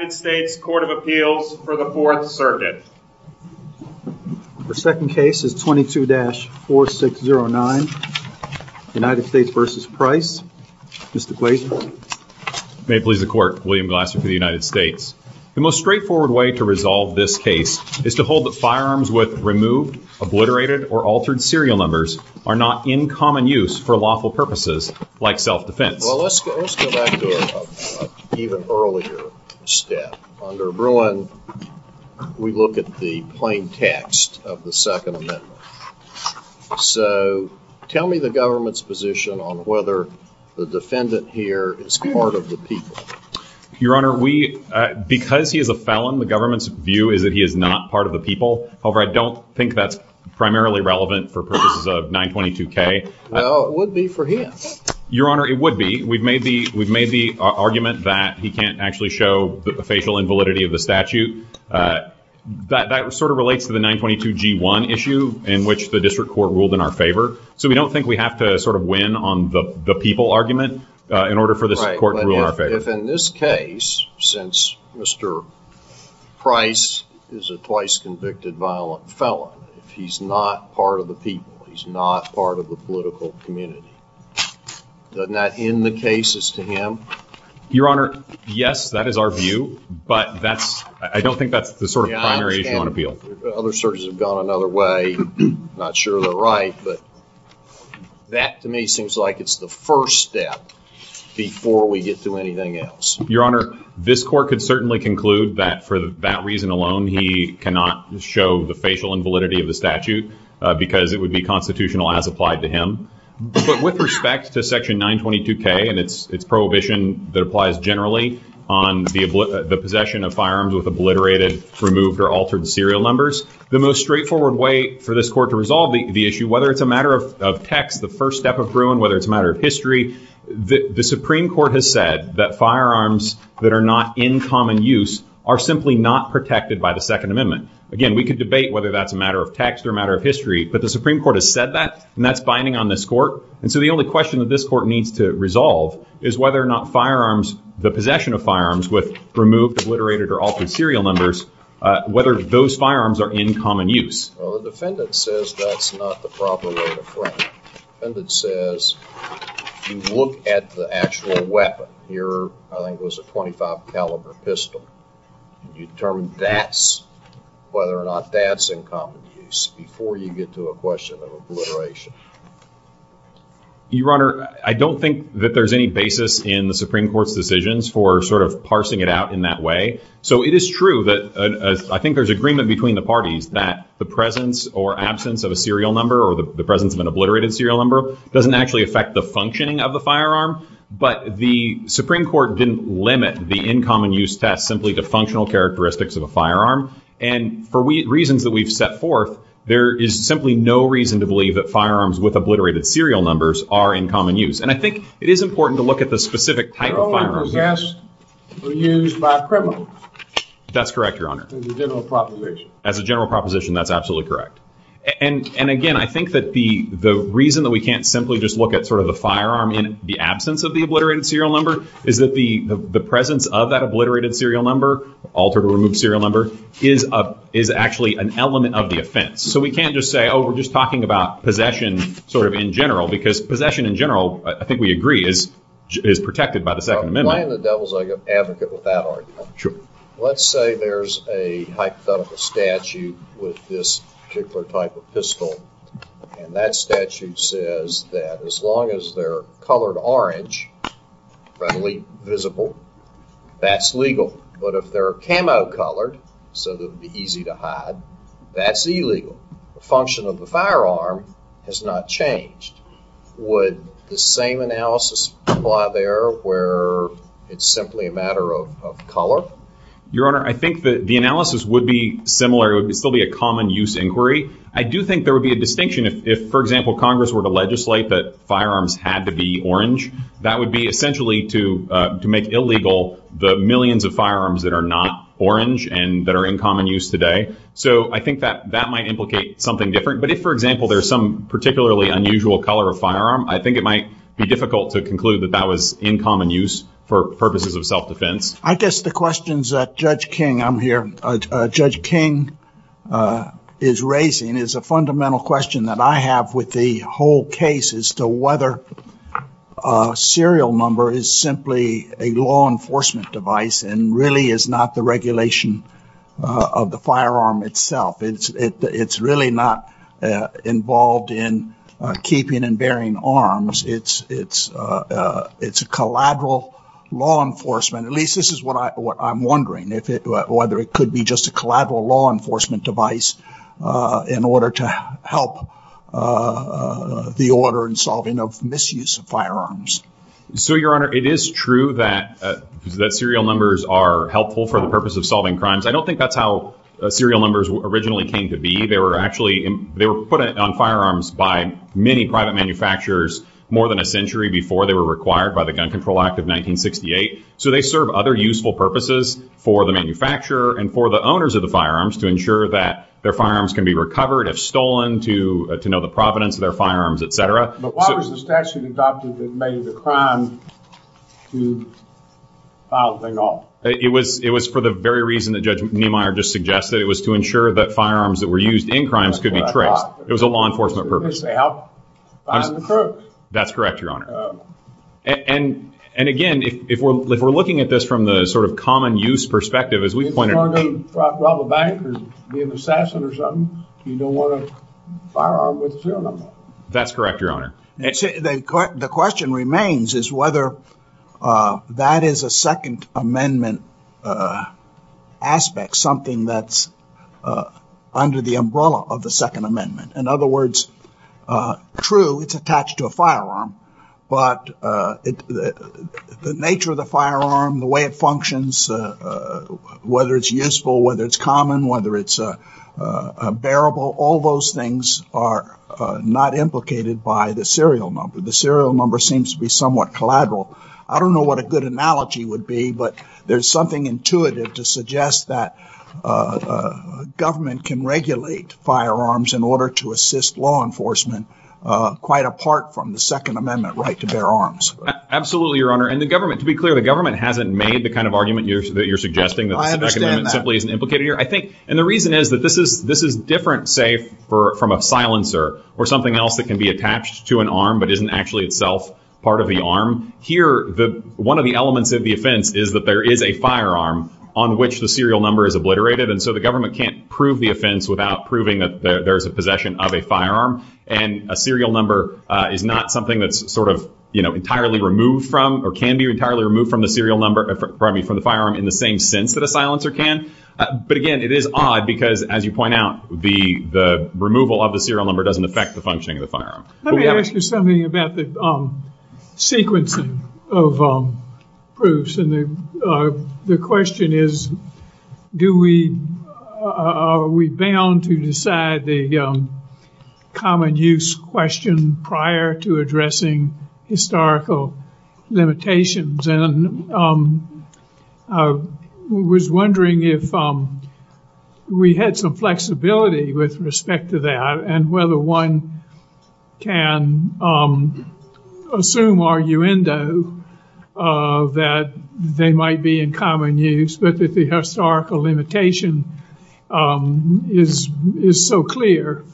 United States Court of Appeals for the 4th Circuit The second case is 22-4609, United States v. Price, Mr. Glaeser May it please the Court, William Glaeser for the United States. The most straightforward way to resolve this case is to hold that firearms with removed, obliterated, or altered serial numbers are not in common use for lawful purposes like self-defense. Well, let's go back to an even earlier step. Under Bruin, we look at the plain text of the Second Amendment. So tell me the government's position on whether the defendant here is part of the people. Your Honor, because he is a felon, the government's view is that he is not part of the people. However, I don't think that's primarily relevant for purposes of 922K. No, it would be for him. Your Honor, it would be. We've made the argument that he can't actually show the facial invalidity of the statute. That sort of relates to the 922G1 issue in which the district court ruled in our favor. So we don't think we have to sort of win on the people argument in order for the court to rule in our favor. If in this case, since Mr. Price is a twice convicted violent felon, if he's not part of the people, he's not part of the political community, doesn't that end the cases to him? Your Honor, yes, that is our view, but that's, I don't think that's the sort of primary point of view. Other searches have gone another way, I'm not sure they're right, but that to me seems like it's the first step before we get to anything else. Your Honor, this court could certainly conclude that for that reason alone, he cannot show the facial invalidity of the statute because it would be constitutional and has applied to him. But with respect to section 922K and its prohibition that applies generally on the possession of firearms with obliterated, removed, or altered serial numbers, the most straightforward way for this court to resolve the issue, whether it's a matter of text, the first step of ruin, whether it's a matter of history, the Supreme Court has said that firearms that are not in common use are simply not protected by the Second Amendment. Again, we could debate whether that's a matter of text or a matter of history, but the Supreme Court has said that, and that's binding on this court, and so the only question that this court needs to resolve is whether or not firearms, the possession of firearms with removed, obliterated, or altered serial numbers, whether those firearms are in common use. Well, the defendant says that's not the proper way to frame it. The defendant says, you look at the actual weapon, here I think was a .25 caliber pistol. You determine that's, whether or not that's in common use before you get to a question of obliteration. Your Honor, I don't think that there's any basis in the Supreme Court's decisions for sort of parsing it out in that way. So it is true that I think there's agreement between the parties that the presence or absence of a serial number or the presence of an obliterated serial number doesn't actually affect the functioning of the firearm, but the Supreme Court didn't limit the in common use test simply to functional characteristics of the firearm, and for reasons that we've set forth, there is simply no reason to believe that firearms with obliterated serial numbers are in common use. And I think it is important to look at the specific type of firearms. They're all used by criminals. That's correct, Your Honor. As a general proposition. As a general proposition, that's absolutely correct. And again, I think that the reason that we can't simply just look at sort of the firearm in the absence of the obliterated serial number is that the presence of that obliterated serial number, altered or removed serial number, is actually an element of the offense. So we can't just say, oh, we're just talking about possession sort of in general, because possession in general, I think we agree, is protected by the Second Amendment. I'm playing the devil's advocate with that argument. Let's say there's a hypothetical statute with this particular type of pistol, and that statute says that as long as they're colored orange, readily visible, that's legal. But if they're camo colored, so that it would be easy to hide, that's illegal. The function of the firearm has not changed. Would the same analysis apply there where it's simply a matter of color? Your Honor, I think that the analysis would be similar. It would still be a common use inquiry. I do think there would be a distinction if, for example, Congress were to legislate that firearms had to be orange. That would be essentially to make illegal the millions of firearms that are not orange and that are in common use today. So I think that that might implicate something different. But if, for example, there's some particularly unusual color of firearm, I think it might be difficult to conclude that that was in common use for purposes of self-defense. I guess the question's that Judge King, I'm here. Judge King is raising is a fundamental question that I have with the whole case as to whether serial number is simply a law enforcement device and really is not the regulation of the firearm itself. It's it's really not involved in keeping and bearing arms. It's it's it's a collateral law enforcement. At least this is what I'm wondering, whether it could be just a collateral law enforcement device in order to help the order and solving of misuse of firearms. So, Your Honor, it is true that that serial numbers are helpful for the purpose of solving crimes. I don't think that's how serial numbers originally came to be. They were actually they were put on firearms by many private manufacturers more than a century before they were required by the Gun Control Act of 1968. So they serve other useful purposes for the manufacturer and for the owners of the firearms to ensure that their firearms can be recovered, if stolen, to know the provenance of their firearms, etc. But why was the statute adopted that made the crime to file them off? It was it was for the very reason that Judge Neumeyer just suggested. It was to ensure that firearms that were used in crimes could be correct. It was a law enforcement purpose. To help find the crooks. That's correct, Your Honor. And and again, if we're looking at this from the sort of common use perspective, as we find out about the bankers, the assassin or something, you don't want a firearm with serial number. That's correct, Your Honor. The question remains is whether that is a Second Amendment aspect, something that's under the umbrella of the Second Amendment. In other words, true, it's attached to a firearm, but the nature of the firearm, the way it functions, whether it's useful, whether it's common, whether it's bearable, all those things are not implicated by the serial number. The serial number seems to be somewhat collateral. I don't know what a good analogy would be, but there's something intuitive to suggest that government can regulate firearms in order to assist law enforcement quite apart from the Second Amendment right to bear arms. Absolutely, Your Honor. And the government, to be clear, the government hasn't made the kind of argument that you're suggesting that simply isn't implicated here, I think. And the reason is that this is this is different, say, from a silencer or something else that can be attached to an arm but isn't actually itself part of the arm here. One of the elements of the offense is that there is a firearm on which the serial number is obliterated, and so the government can't prove the offense without proving that there's a possession of a firearm and a serial number is not something that's sort of entirely removed from or can be entirely removed from the firearm in the same sense that a silencer can. But again, it is odd because, as you point out, the removal of the serial number doesn't affect the functioning of the firearm. Let me ask you something about the sequencing of proofs. And the question is, do we, are we bound to decide the common use question prior to addressing historical limitations? And I was wondering if we had some flexibility with respect to that and whether one can assume arguendo that they might be in common use, but that the historical limitation is so clear.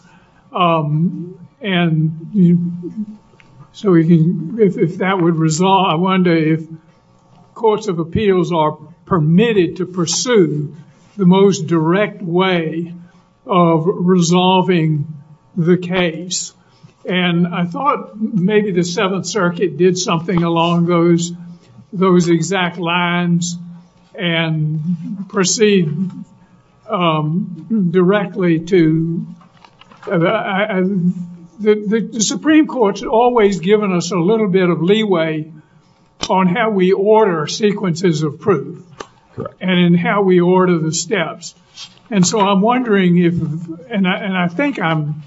And so if that would resolve, I wonder if courts of appeals are permitted to pursue the most direct way of resolving the case. And I thought maybe the Seventh Circuit did something along those exact lines and proceed directly to, the Supreme Court's always given us a little bit of leeway on how we order sequences of proof and how we order the steps. And so I'm wondering if, and I think I'm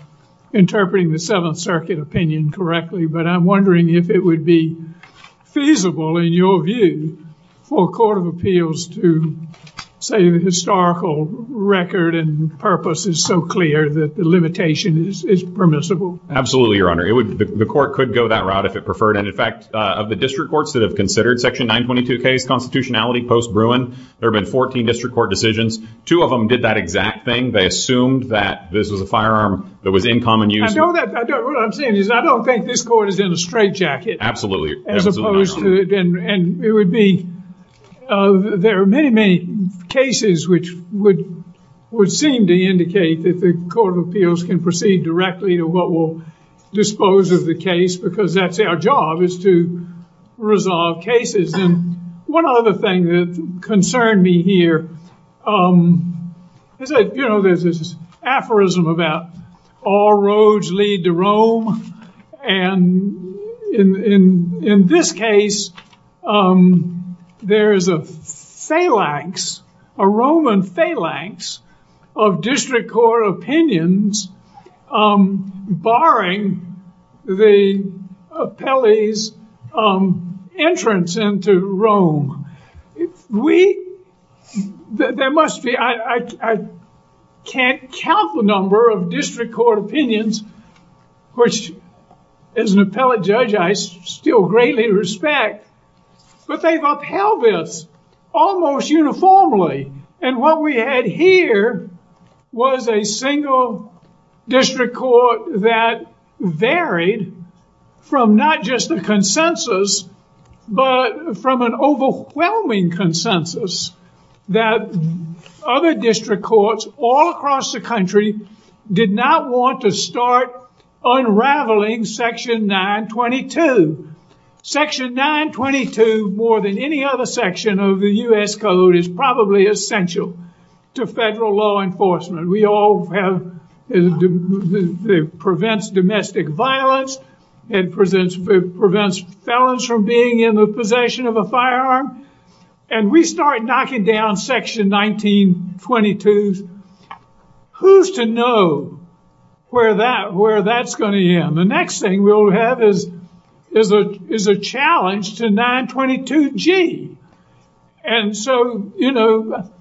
interpreting the Seventh Circuit opinion correctly, but I'm wondering if it would be feasible in your view for a court of appeals to say the historical record and purpose is so clear that the limitation is permissible? Absolutely, Your Honor. The court could go that route if it preferred. And in fact, of the district courts that have considered Section 922 case constitutionality post-Bruin, there have been 14 district court decisions. Two of them did that exact thing. They assumed that this is a firearm that was in common use. I know that, what I'm saying is I don't think this court is in a straitjacket. Absolutely. As opposed to, and it would be, there are many, many cases which would seem to indicate that the court of appeals can proceed directly to what will dispose of the case because that's their job is to resolve cases. And one other thing that concerned me here is, you know, there's this aphorism about all roads lead to Rome. And in this case, there is a phalanx, a Roman phalanx of district court opinions barring the appellee's entrance into Rome. We, there must be, I can't count the number of district court opinions, which as an appellate judge, I still greatly respect, but they've upheld this almost uniformly. And what we had here was a single district court that varied from not just the consensus, but from an overwhelming consensus that other district courts all across the country did not want to start unraveling Section 922. Section 922, more than any other section of the U.S. Code, is probably essential to federal law enforcement. We all have, it prevents domestic violence, it prevents felons from being in the possession of a firearm, and we start knocking down Section 1922. Who's to know where that, where that's going to end? The next thing we'll have is a challenge to 922G. And so, you know,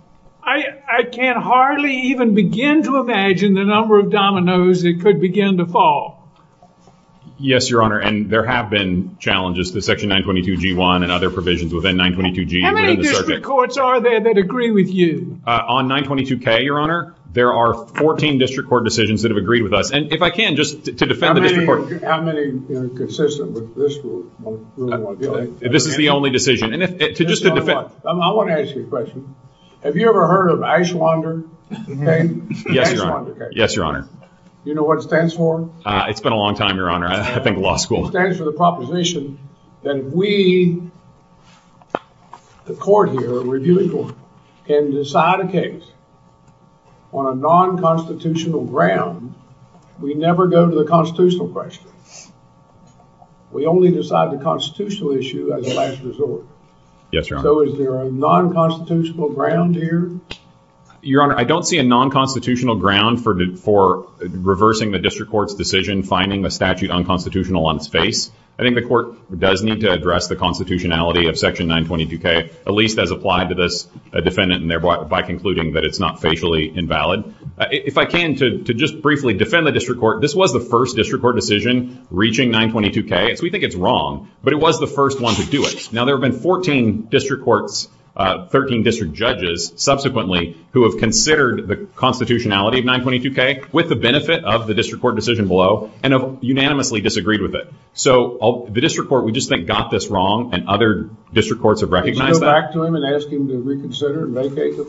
I can't hardly even begin to imagine the number of dominoes it could begin to fall. Yes, Your Honor, and there have been challenges to Section 922G1 and other provisions within 922G. How many district courts are there that agree with you? On 922K, Your Honor, there are 14 district court decisions that have agreed with us. And if I can, just to defend the district court. How many are consistent with this group? This is the only decision. I want to ask you a question. Have you ever heard of Icelander? Yes, Your Honor. You know what it stands for? It's been a long time, Your Honor. I've been to law school. On a non-constitutional ground, we never go to the constitutional question. We only decide the constitutional issue as a last resort. Yes, Your Honor. So is there a non-constitutional ground here? Your Honor, I don't see a non-constitutional ground for reversing the district court's decision, finding a statute unconstitutional on space. I think the court does need to address the constitutionality of Section 922K, at least as applied to this defendant, and thereby by concluding that it's not facially invalid. If I can, to just briefly defend the district court, this was the first district court decision reaching 922K. We think it's wrong, but it was the first one to do it. Now, there have been 14 district courts, 13 district judges subsequently who have considered the constitutionality of 922K with the benefit of the district court decision below and unanimously disagreed with it. So the district court, we just think, got this wrong. And other district courts have recognized that. Can you go back to him and ask him to reconsider and vacate the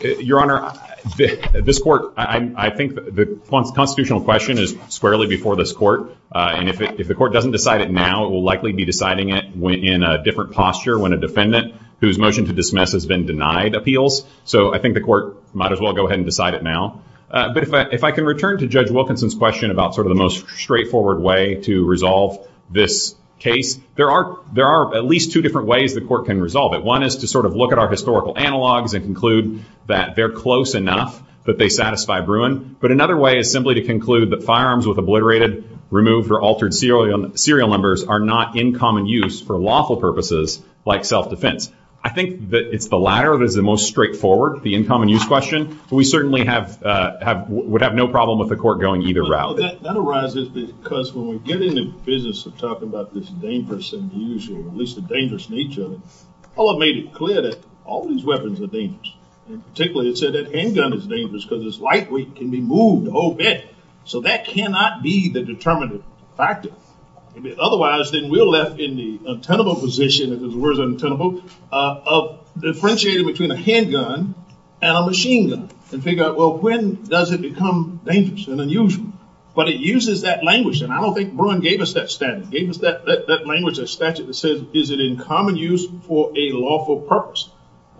thing? Your Honor, this court, I think the constitutional question is squarely before this court. And if the court doesn't decide it now, it will likely be deciding it in a different posture when a defendant whose motion to dismiss has been denied appeals. So I think the court might as well go ahead and decide it now. But if I can return to Judge Wilkinson's question about sort of the most straightforward way to resolve this case, there are at least two different ways the court can resolve it. One is to sort of look at our historical analogs and conclude that they're close enough that they satisfy Bruin. But another way is simply to conclude that firearms with obliterated, removed or altered serial serial numbers are not in common use for lawful purposes like self defense. I think that it's the latter of the most straightforward, the in common use question. We certainly have would have no problem with the court going either route. That arises because when we get into the business of talking about this dangerous and unusual, at least the dangerous nature of it, I want to make it clear that all these weapons are dangerous. And particularly, it said that handgun is dangerous because it's lightweight and can be moved a whole bit. So that cannot be the determinative factor. Otherwise, then we're left in the untenable position, in other words, untenable, of differentiating between a handgun and a machine gun and figure out, well, when does it become dangerous and unusual? But it uses that language. And I don't think Bruin gave us that standard, gave us that language of statute that said, is it in common use for a lawful purpose?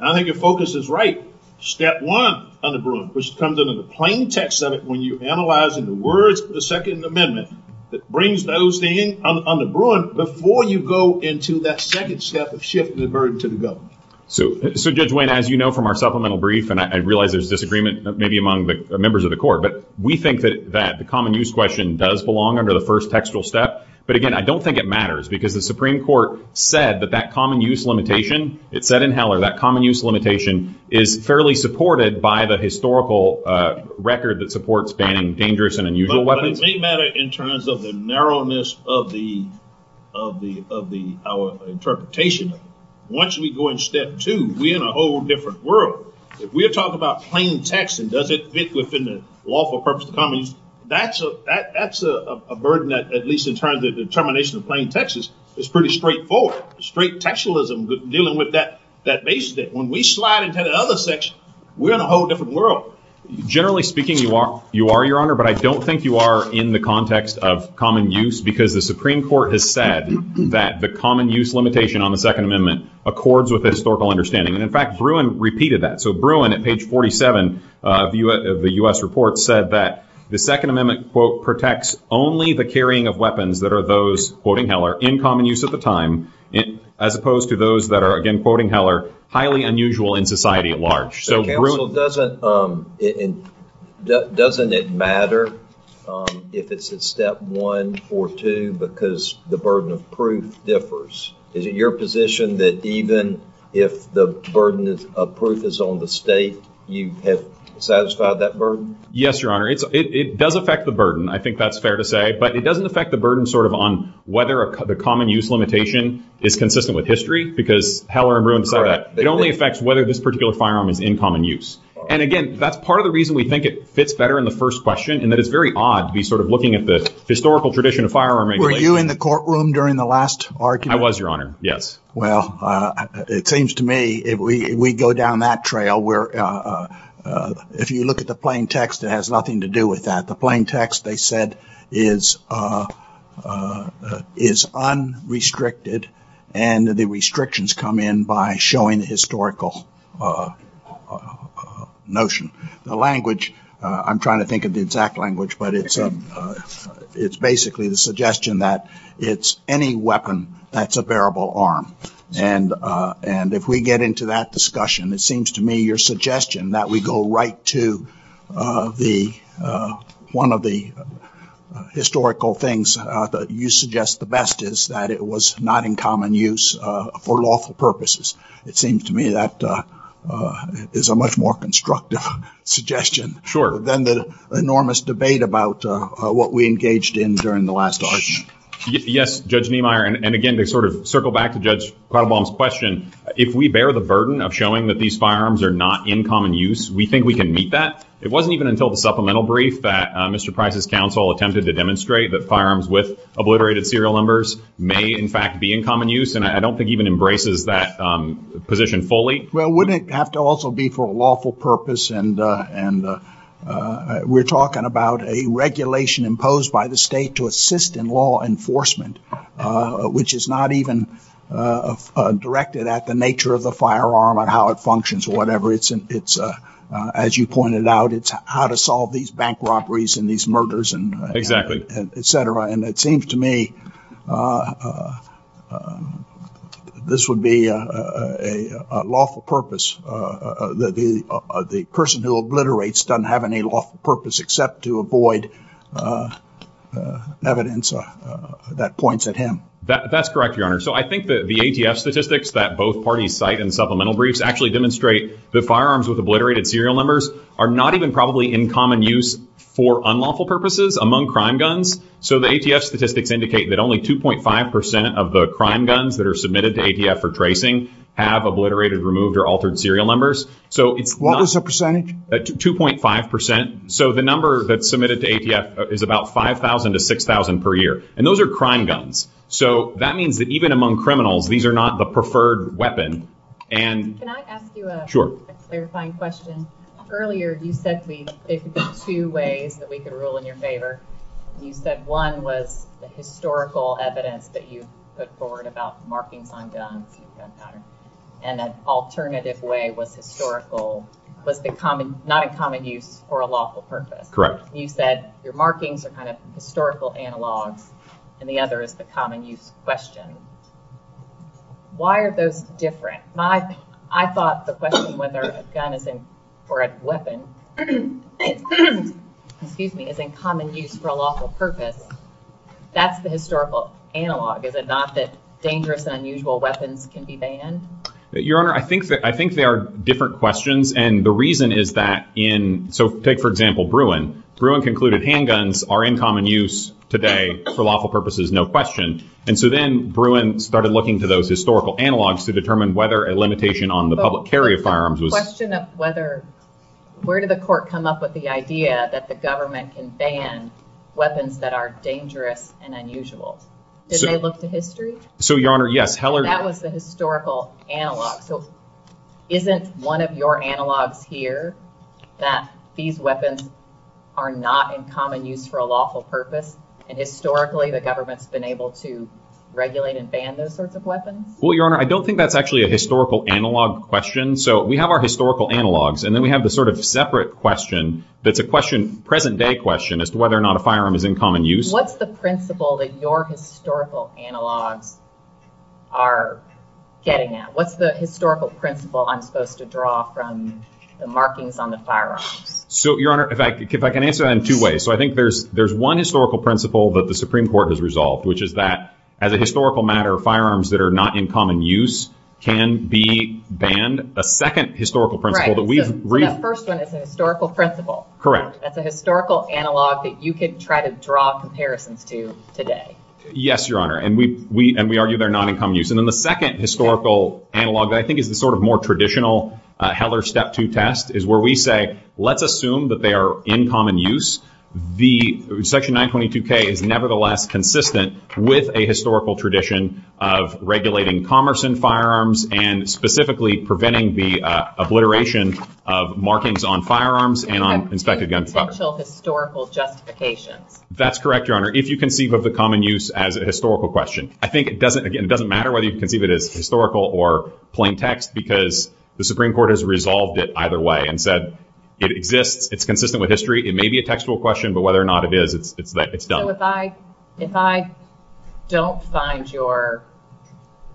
I think your focus is right. Step one on the Bruin, which comes into the plaintext of it when you analyze in the words of the Second Amendment that brings those in on the Bruin before you go into that second step of shifting the burden to the government. So, Judge Wayne, as you know from our supplemental brief, and I realize there's disagreement maybe among the members of the court, but we think that that the common use question does belong under the first textual step. But again, I don't think it matters because the Supreme Court said that that common use limitation, it said in Heller, that common use limitation is fairly supported by the historical record that supports banning dangerous and unusual weapons. It may matter in terms of the narrowness of the, of the, of the interpretation. Once we go into step two, we're in a whole different world. If we're talking about plain text and does it fit within the lawful purpose of the text, that's a burden, at least in terms of the termination of plain text, is pretty straightforward. Straight textualism dealing with that, that basically when we slide into the other section, we're in a whole different world. Generally speaking, you are, you are, Your Honor, but I don't think you are in the context of common use because the Supreme Court has said that the common use limitation on the Second Amendment accords with historical understanding. And in fact, Bruin repeated that. So Bruin at page 47 of the U.S. report said that the Second Amendment, quote, protects only the carrying of weapons that are those, quoting Heller, in common use at the time, as opposed to those that are, again, quoting Heller, highly unusual in society at large. So doesn't it, doesn't it matter if it's at step one or two because the burden of proof differs? Is it your position that even if the burden of proof is on the state, you have satisfied that burden? Yes, Your Honor, it does affect the burden. I think that's fair to say, but it doesn't affect the burden sort of on whether the common use limitation is consistent with history because Heller and Bruin said that. It only affects whether this particular firearm is in common use. And again, that's part of the reason we think it fits better in the first question, and that it's very odd to be sort of looking at the historical tradition of firearm making. Were you in the courtroom during the last argument? I was, Your Honor. Yes. Well, it seems to me if we go down that trail where if you look at the plain text, it has nothing to do with that. The plain text, they said, is unrestricted and the restrictions come in by showing historical notion. The language, I'm trying to think of the exact language, but it's basically the weapon that's a bearable arm. And and if we get into that discussion, it seems to me your suggestion that we go right to the one of the historical things that you suggest the best is that it was not in common use for lawful purposes. It seems to me that is a much more constructive suggestion than the enormous debate about what we engaged in during the last argument. Yes, Judge Niemeyer. And again, they sort of circle back to Judge Proudbaum's question, if we bear the burden of showing that these firearms are not in common use, we think we can meet that. It wasn't even until the supplemental brief that Mr. Price's counsel attempted to demonstrate that firearms with obliterated serial numbers may, in fact, be in common use. And I don't think even embraces that position fully. Well, wouldn't it have to also be for a lawful purpose? And and we're talking about a regulation imposed by the state to assist in law enforcement, which is not even directed at the nature of the firearm or how it functions or whatever. It's it's as you pointed out, it's how to solve these bank robberies and these murders and et cetera. And it seems to me this would be a lawful purpose that the person who obliterates doesn't have any lawful purpose except to avoid evidence that points at him. That's correct, your honor. So I think that the ATF statistics that both parties cite in supplemental briefs actually demonstrate that firearms with obliterated serial numbers are not even probably in common use for unlawful purposes among crime guns. So the ATF statistics indicate that only 2.5 percent of the crime guns that are submitted to ATF for tracing have obliterated, removed or altered serial numbers. So it was a percent 2.5 percent. So the number that's submitted to ATF is about 5000 to 6000 per year. And those are crime guns. So that means that even among criminals, these are not the preferred weapon. And can I ask you a clarifying question? Earlier, you said it's two ways that we can rule in your favor. You said one was the historical evidence that you put forward about markings on guns. And an alternative way was historical, but not in common use for a lawful purpose. You said your markings are kind of historical analog and the other is the common use question. Why are those different? I thought the question whether a gun or a weapon is in common use for a lawful purpose. That's the historical analog, is it not, that dangerous and unusual weapons can be banned? Your Honor, I think that I think there are different questions. And the reason is that in, so take, for example, Bruin. Bruin concluded handguns are in common use today for lawful purposes, no question. And so then Bruin started looking to those historical analogs to determine whether a limitation on the public carry of firearms was... The question of whether, where did the court come up with the idea that the weapons that are dangerous and unusual, did they look to history? So, Your Honor, yes. That was the historical analog. Isn't one of your analogs here that these weapons are not in common use for a lawful purpose? And historically, the government's been able to regulate and ban those sorts of weapons? Well, Your Honor, I don't think that's actually a historical analog question. So we have our historical analogs and then we have the sort of separate question that the question, present day question as to whether or not a firearm is in common use. What's the principle that your historical analogs are getting at? What's the historical principle I'm supposed to draw from the markings on the firearm? So, Your Honor, if I can answer that in two ways. So I think there's there's one historical principle that the Supreme Court has resolved, which is that as a historical matter, firearms that are not in common use can be banned. The second historical principle that we've read. The first one is a historical principle. Correct. That's a historical analog that you could try to draw comparisons to today. Yes, Your Honor. And we and we argue they're not in common use. And then the second historical analog, I think, is the sort of more traditional Heller Step 2 test is where we say, let's assume that they are in common use. The Section 922K is nevertheless consistent with a historical tradition of regulating commerce and firearms and specifically preventing the obliteration of markings on inspected gunpowder. Historical justification. That's correct, Your Honor. If you conceive of the common use as a historical question, I think it doesn't it doesn't matter whether you can see that it's historical or plain text because the Supreme Court has resolved it either way and said it exists, it's consistent with history. It may be a textual question, but whether or not it is, it's done. So if I if I don't find your,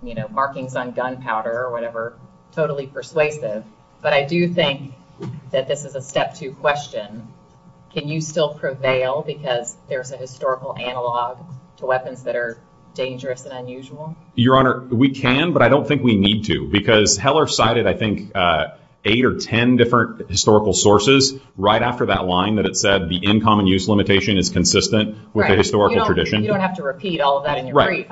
you know, markings on gunpowder or whatever, totally persuasive. But I do think that this is a Step 2 question. Can you still prevail because there's a historical analog to weapons that are dangerous and unusual? Your Honor, we can, but I don't think we need to, because Heller cited, I think, eight or ten different historical sources right after that line that it said the in common use limitation is consistent with a historical tradition. You don't have to repeat all of that. Right.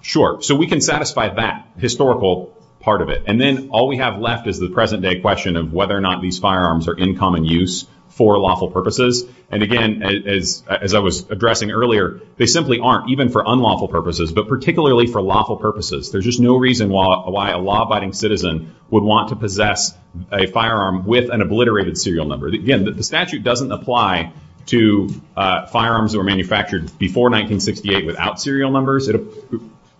Sure. So we can satisfy that historical part of it. And then all we have left is the present day question of whether or not these firearms are in common use for lawful purposes. And again, as I was addressing earlier, they simply aren't even for unlawful purposes, but particularly for lawful purposes. There's just no reason why a law abiding citizen would want to possess a firearm with an obliterated serial number. Again, the statute doesn't apply to firearms that were manufactured before 1968 without serial numbers.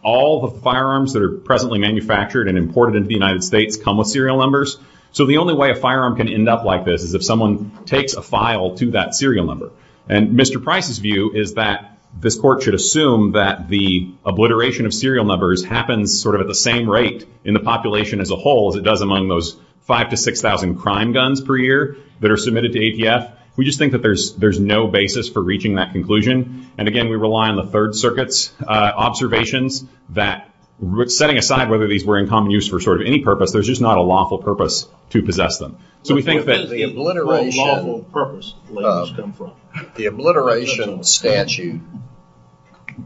All the firearms that are presently manufactured and imported into the United States come with serial numbers. So the only way a firearm can end up like this is if someone takes a file to that serial number. And Mr. Price's view is that this court should assume that the obliteration of serial numbers happens sort of the same rate in the population as a whole as it does among those five to six thousand crime guns per year that are submitted to APF. We just think that there's there's no basis for reaching that conclusion. And again, we rely on the Third Circuit's observations that setting aside whether these were in common use for sort of any purpose, there's just not a lawful purpose to possess them. So we think that the obliteration statute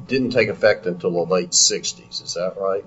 didn't take effect until the late 60s. Is that right?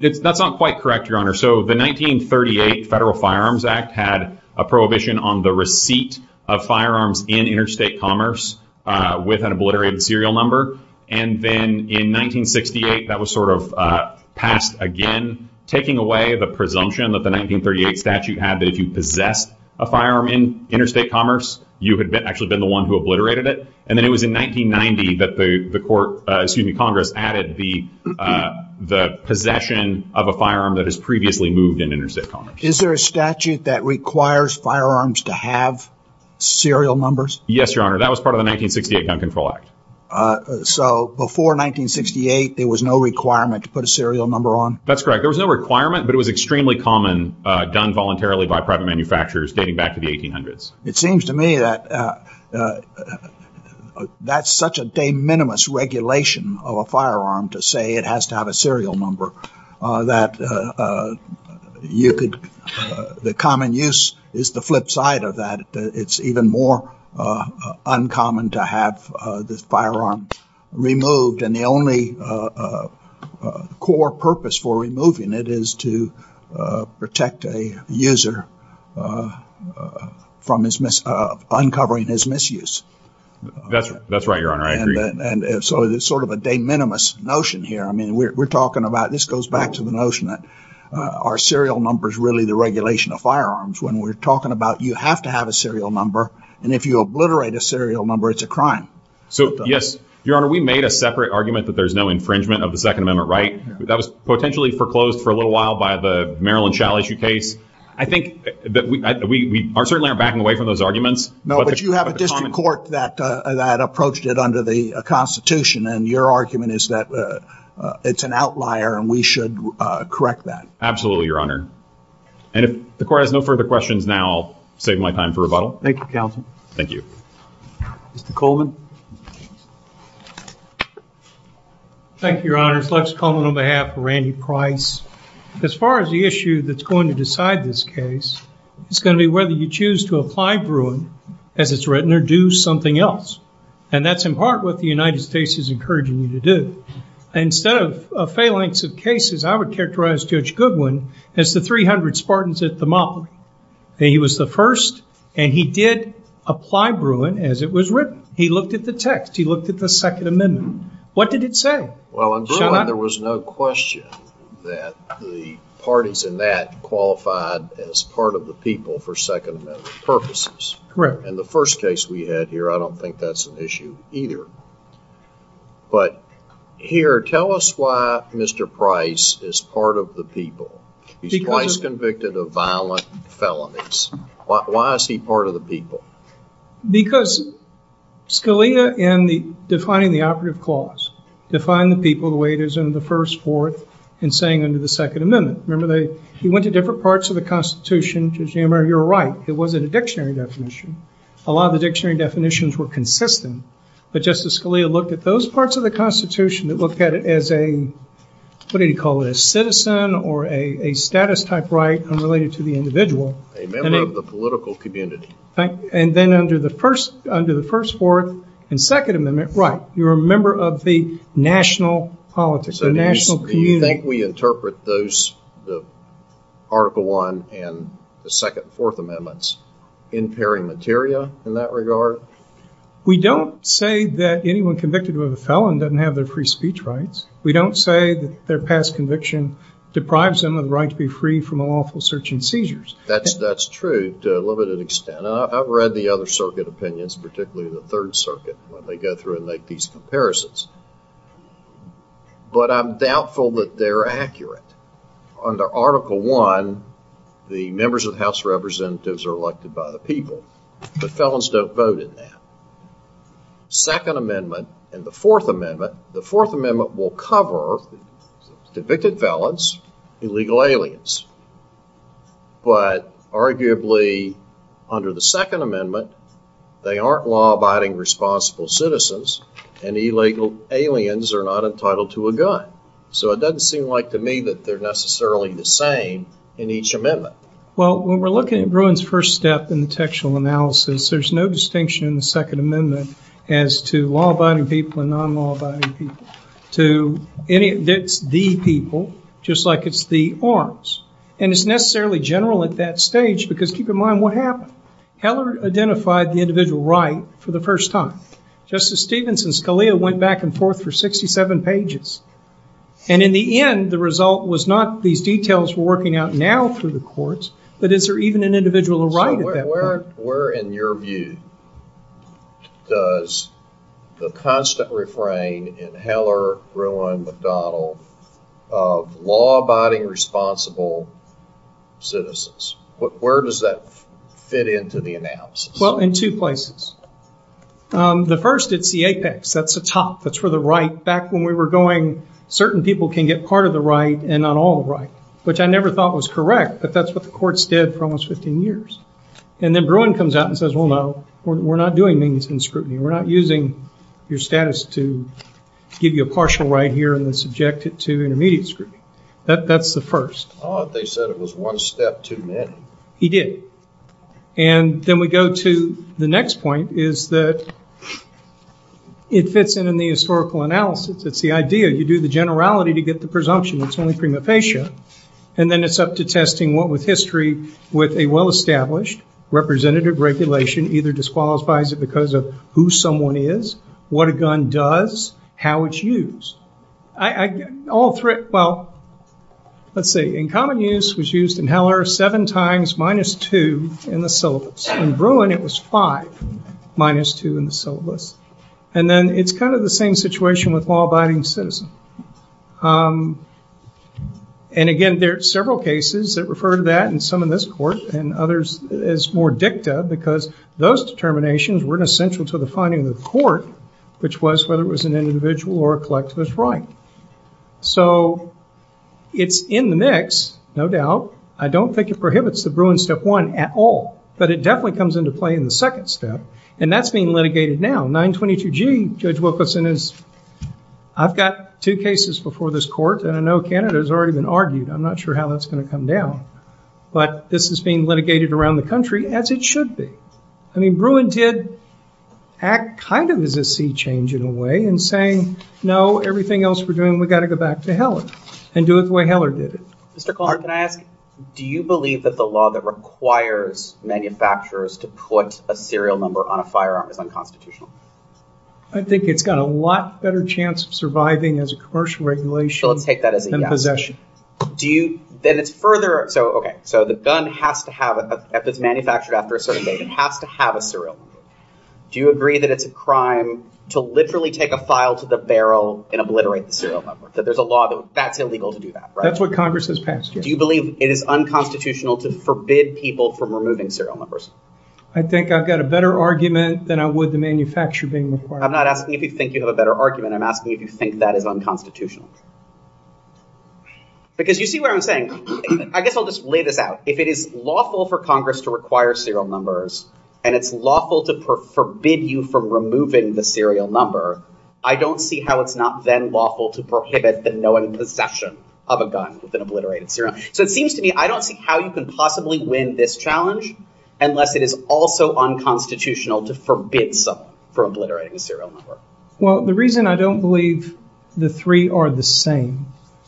That's not quite correct, Your Honor. So the 1938 Federal Firearms Act had a prohibition on the receipt of firearms in interstate commerce with an obliterated serial number. And then in 1968, that was sort of passed again, taking away the presumption that the 1938 statute had that if you possessed a firearm in interstate commerce, you had actually been the one who obliterated it. And then it was in 1990 that the court, excuse me, Congress added the possession of a firearm that has previously moved in interstate commerce. Is there a statute that requires firearms to have serial numbers? Yes, Your Honor. That was part of the 1968 Gun Control Act. So before 1968, there was no requirement to put a serial number on? That's correct. There was no requirement, but it was extremely common, done voluntarily by private manufacturers dating back to the 1800s. It seems to me that that's such a de minimis regulation of a firearm to say it has to have a serial number that you could the common use is the flip side of that. It's even more uncommon to have this firearm removed. And the only core purpose for removing it is to protect a user from uncovering his misuse. That's right, Your Honor. And so there's sort of a de minimis notion here. I mean, we're talking about this goes back to the notion that our serial number is really the regulation of firearms. When we're talking about you have to have a serial number. And if you obliterate a serial number, it's a crime. So, yes, Your Honor, we made a separate argument that there's no infringement of the Second Amendment. Right. That was potentially foreclosed for a little while by the Maryland shall issue case. I think that we are certainly are backing away from those arguments. No, but you have a court that that approached it under the Constitution. And your argument is that it's an outlier and we should correct that. Absolutely, Your Honor. And if the court has no further questions now, I'll save my time for rebuttal. Thank you, counsel. Thank you. Mr. Coleman. Thank you, Your Honor. Flex Coleman on behalf of Randy Price. As far as the issue that's going to decide this case, it's going to be whether you choose to apply for as it's written or do something else. And that's in part what the United States is encouraging you to do. Instead of a phalanx of cases, I would characterize Judge Goodwin as the 300 Spartans at the mob. He was the first and he did apply Bruin as it was written. He looked at the text. He looked at the Second Amendment. What did it say? Well, there was no question that the parties in that qualified as part of the people for Second Amendment purposes. Correct. And the first case we had here, I don't think that's an issue either. But here, tell us why Mr. Price is part of the people. He's twice convicted of violent felonies. Why is he part of the people? Because Scalia in defining the operative clause defined the people the way it is in the first court and saying under the Second Amendment. Remember, he went to different parts of the Constitution. Judge Hammer, you're right. It wasn't a dictionary definition. A lot of the dictionary definitions were consistent, but Justice Scalia looked at those parts of the Constitution and looked at it as a, what did he call it, a citizen or a status type right unrelated to the individual. A member of the political community. And then under the first, under the first fourth and Second Amendment, right, you're a member of the national politics, the national community. Do you think we interpret those, the Article 1 and the second fourth amendments, impairing materia in that regard? We don't say that anyone convicted of a felon doesn't have their free speech rights. We don't say their past conviction deprives them of the right to be free from lawful search and seizures. That's that's true to a limited extent. And I've read the other circuit opinions, particularly the Third Circuit, when they go through and make these comparisons. But I'm doubtful that they're accurate. Under Article 1, the members of the House of Representatives are elected by the people, but felons don't vote in that. Second Amendment and the Fourth Amendment, the Fourth Amendment will cover convicted felons, illegal aliens. But arguably, under the Second Amendment, they aren't law-abiding responsible citizens and illegal aliens are not entitled to a gun. So it doesn't seem like to me that they're necessarily the same in each amendment. Well, when we're looking at Bruin's first step in the textual analysis, there's no distinction in the Second Amendment as to law-abiding people and non-law-abiding people. To any of the people, just like it's the orange, and it's necessarily general at that stage because keep in mind what happened. Heller identified the individual right for the first time. Justice Stevenson's CALEA went back and forth for 67 pages. And in the end, the result was not these details we're working out now through the courts, but is there even an individual around? Where, in your view, does the constant refrain in Heller, Bruin, McDonnell of law-abiding responsible citizens, where does that fit into the analysis? Well, in two places. The first, it's the apex, that's the top, that's for the right. Back when we were going, certain people can get part of the right and not all the right, which I never thought was correct. But that's what the courts did for almost 15 years. And then Bruin comes out and says, well, no, we're not doing this in scrutiny. We're not using your status to give you a partial right here and then subject it to intermediate scrutiny. That's the first. They said it was one step too many. He did. And then we go to the next point. Is that it fits in in the historical analysis. It's the idea. You do the generality to get the presumption. It's only prima facie. And then it's up to testing what with history, with a well-established representative regulation, either disqualifies it because of who someone is, what a gun does, how it's used. All three. Well, let's say in common use was used in Heller seven times, minus two in the five, minus two in the syllabus. And then it's kind of the same situation with law abiding citizen. And again, there are several cases that refer to that and some of this court and others is more dicta because those determinations were essential to the finding of the court, which was whether it was an individual or a collectivist right. So it's in the mix. No doubt. I don't think it prohibits the Bruin step one at all, but it definitely comes into play in the second step. And that's being litigated now. 922 G. Judge Wilkerson is. I've got two cases before this court and I know Canada has already been argued. I'm not sure how that's going to come down, but this is being litigated around the country as it should be. I mean, Bruin did act kind of as a sea change in a way and saying, no, everything else we're doing, we've got to go back to Heller and do it the way Heller did it. Mr. Clark, can I ask, do you believe that the law that requires manufacturers to put a serial number on a firearm is unconstitutional? I think it's got a lot better chance of surviving as a commercial regulation than possession. Do you then it's further. So, OK, so the gun has to have a manufactured after a certain date, it has to have a serial number. Do you agree that it's a crime to literally take a file to the barrel and obliterate the serial number, that there's a law that would be illegal to do that? That's what Congress has passed. Do you believe it is unconstitutional to forbid people from removing serial numbers? I think I've got a better argument than I would the manufacturer being the firearm. I'm not asking if you think you have a better argument. I'm asking if you think that is unconstitutional. Because you see what I'm saying. I guess I'll just lay this out. If it is lawful for Congress to require serial numbers and it's lawful to forbid you from removing the serial number, I don't see how it's not then lawful to prohibit the possession of a gun that's been obliterated. So it seems to me I don't see how you can possibly win this challenge unless it is also unconstitutional to forbid someone from obliterating a serial number. Well, the reason I don't believe the three are the same.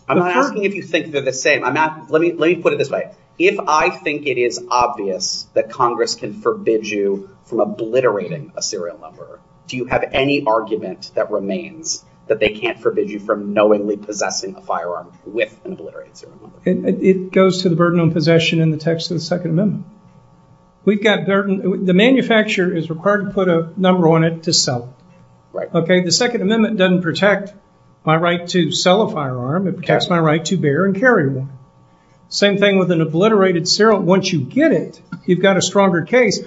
I'm not asking if you think they're the same. Let me put it this way. If I think it is obvious that Congress can forbid you from obliterating a serial number, do you have any argument that remains that they can't forbid you from knowingly possessing a firearm with an obliterated serial number? It goes to the burden on possession in the text of the Second Amendment. We've got burden. The manufacturer is required to put a number on it to sell. Right. Okay. The Second Amendment doesn't protect my right to sell a firearm. It protects my right to bear and carry one. Same thing with an obliterated serial. Once you get it, you've got a stronger case.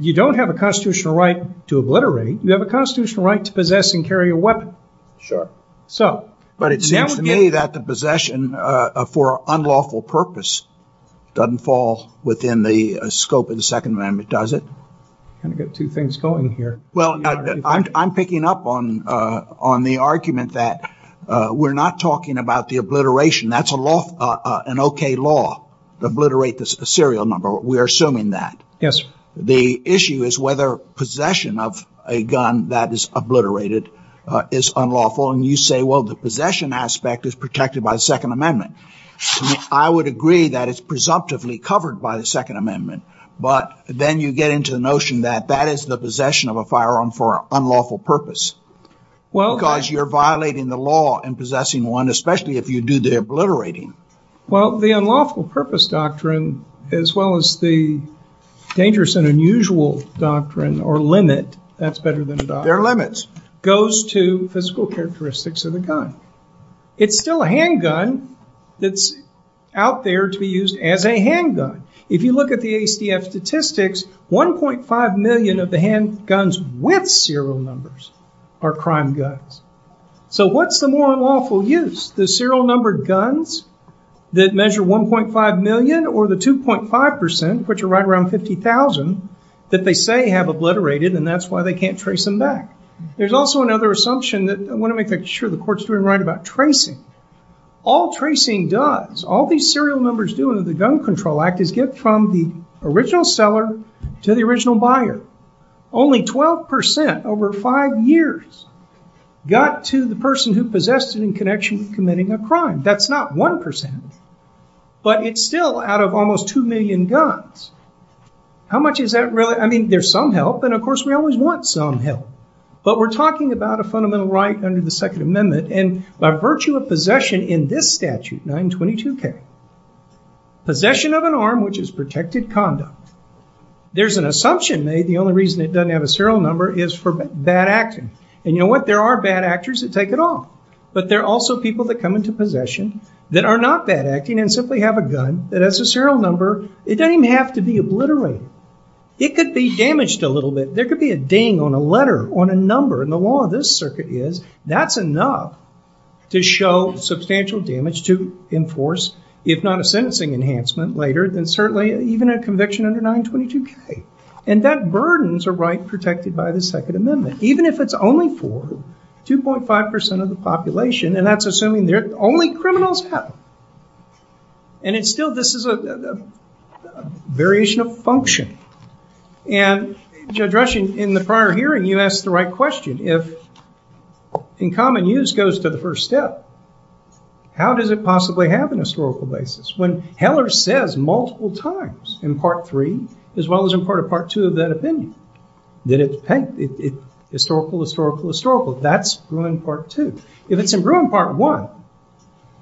You don't have a constitutional right to obliterate. You have a constitutional right to possess and carry a weapon. Sure. So. But it seems to me that the possession for unlawful purpose doesn't fall within the scope of the Second Amendment, does it? Kind of get two things going here. Well, I'm picking up on on the argument that we're not talking about the obliteration. That's a law, an okay law to obliterate the serial number. We're assuming that. Yes. The issue is whether possession of a gun that is obliterated is unlawful. And you say, well, the possession aspect is protected by the Second Amendment. I would agree that it's presumptively covered by the Second Amendment. But then you get into the notion that that is the possession of a firearm for unlawful purpose. Well, because you're violating the law and possessing one, especially if you do the obliterating. Well, the unlawful purpose doctrine, as well as the dangerous and unusual doctrine or limit, that's better than their limits, goes to physical characteristics of the gun. It's still a handgun that's out there to use as a handgun. If you look at the ACF statistics, 1.5 million of the handguns with serial numbers are crime guns. So what's the more unlawful use? The serial number of guns that measure 1.5 million or the 2.5 percent, which are right around 50,000, that they say have obliterated and that's why they can't trace them back. There's also another assumption that I want to make sure the court's doing right about tracing. All tracing does, all these serial numbers do under the Gun Control Act, is get from the original seller to the original buyer. Only 12 percent over five years got to the person who possessed it in connection with committing a crime. That's not 1 percent, but it's still out of almost 2 million guns. How much is that really? I mean, there's some help and, of course, we always want some help, but we're talking about a fundamental right under the Second Amendment. And by virtue of possession in this statute, 922K, possession of an arm which is protected conduct, there's an assumption that the only reason it doesn't have a serial number is for bad acting. And you know what? There are bad actors that take it off. But there are also people that come into possession that are not bad acting and simply have a gun that has a serial number. It doesn't even have to be obliterated. It could be damaged a little bit. There could be a ding on a letter, on a number. And the law of this circuit is that's enough to show substantial damage to enforce, if not a sentencing enhancement later, then certainly even a conviction under 922K. And that burdens a right protected by the Second Amendment, even if it's only for 2.5 percent of the population. And that's assuming they're only criminals. And it's still this is a variation of function. And Judge Rushing, in the prior hearing, you asked the right question. If in common use goes to the first step, how does it possibly happen on a historical basis? When Heller says multiple times in Part 3, as well as in part of Part 2 of the opinion, that it's historical, historical, historical, that's ruin Part 2. If it's in ruin Part 1,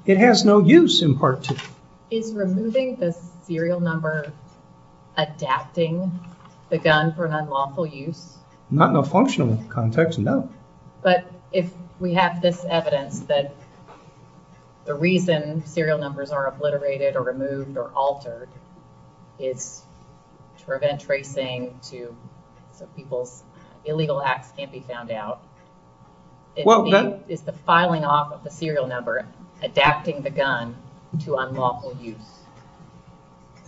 it has no use in Part 2. Is removing the serial number adapting the gun for an unlawful use? Not in a functional context, no. But if we have this evidence that the reason serial numbers are obliterated or removed or altered is to prevent tracing to people, illegal acts can't be found out, it's the filing off of the serial number adapting the gun to unlawful use.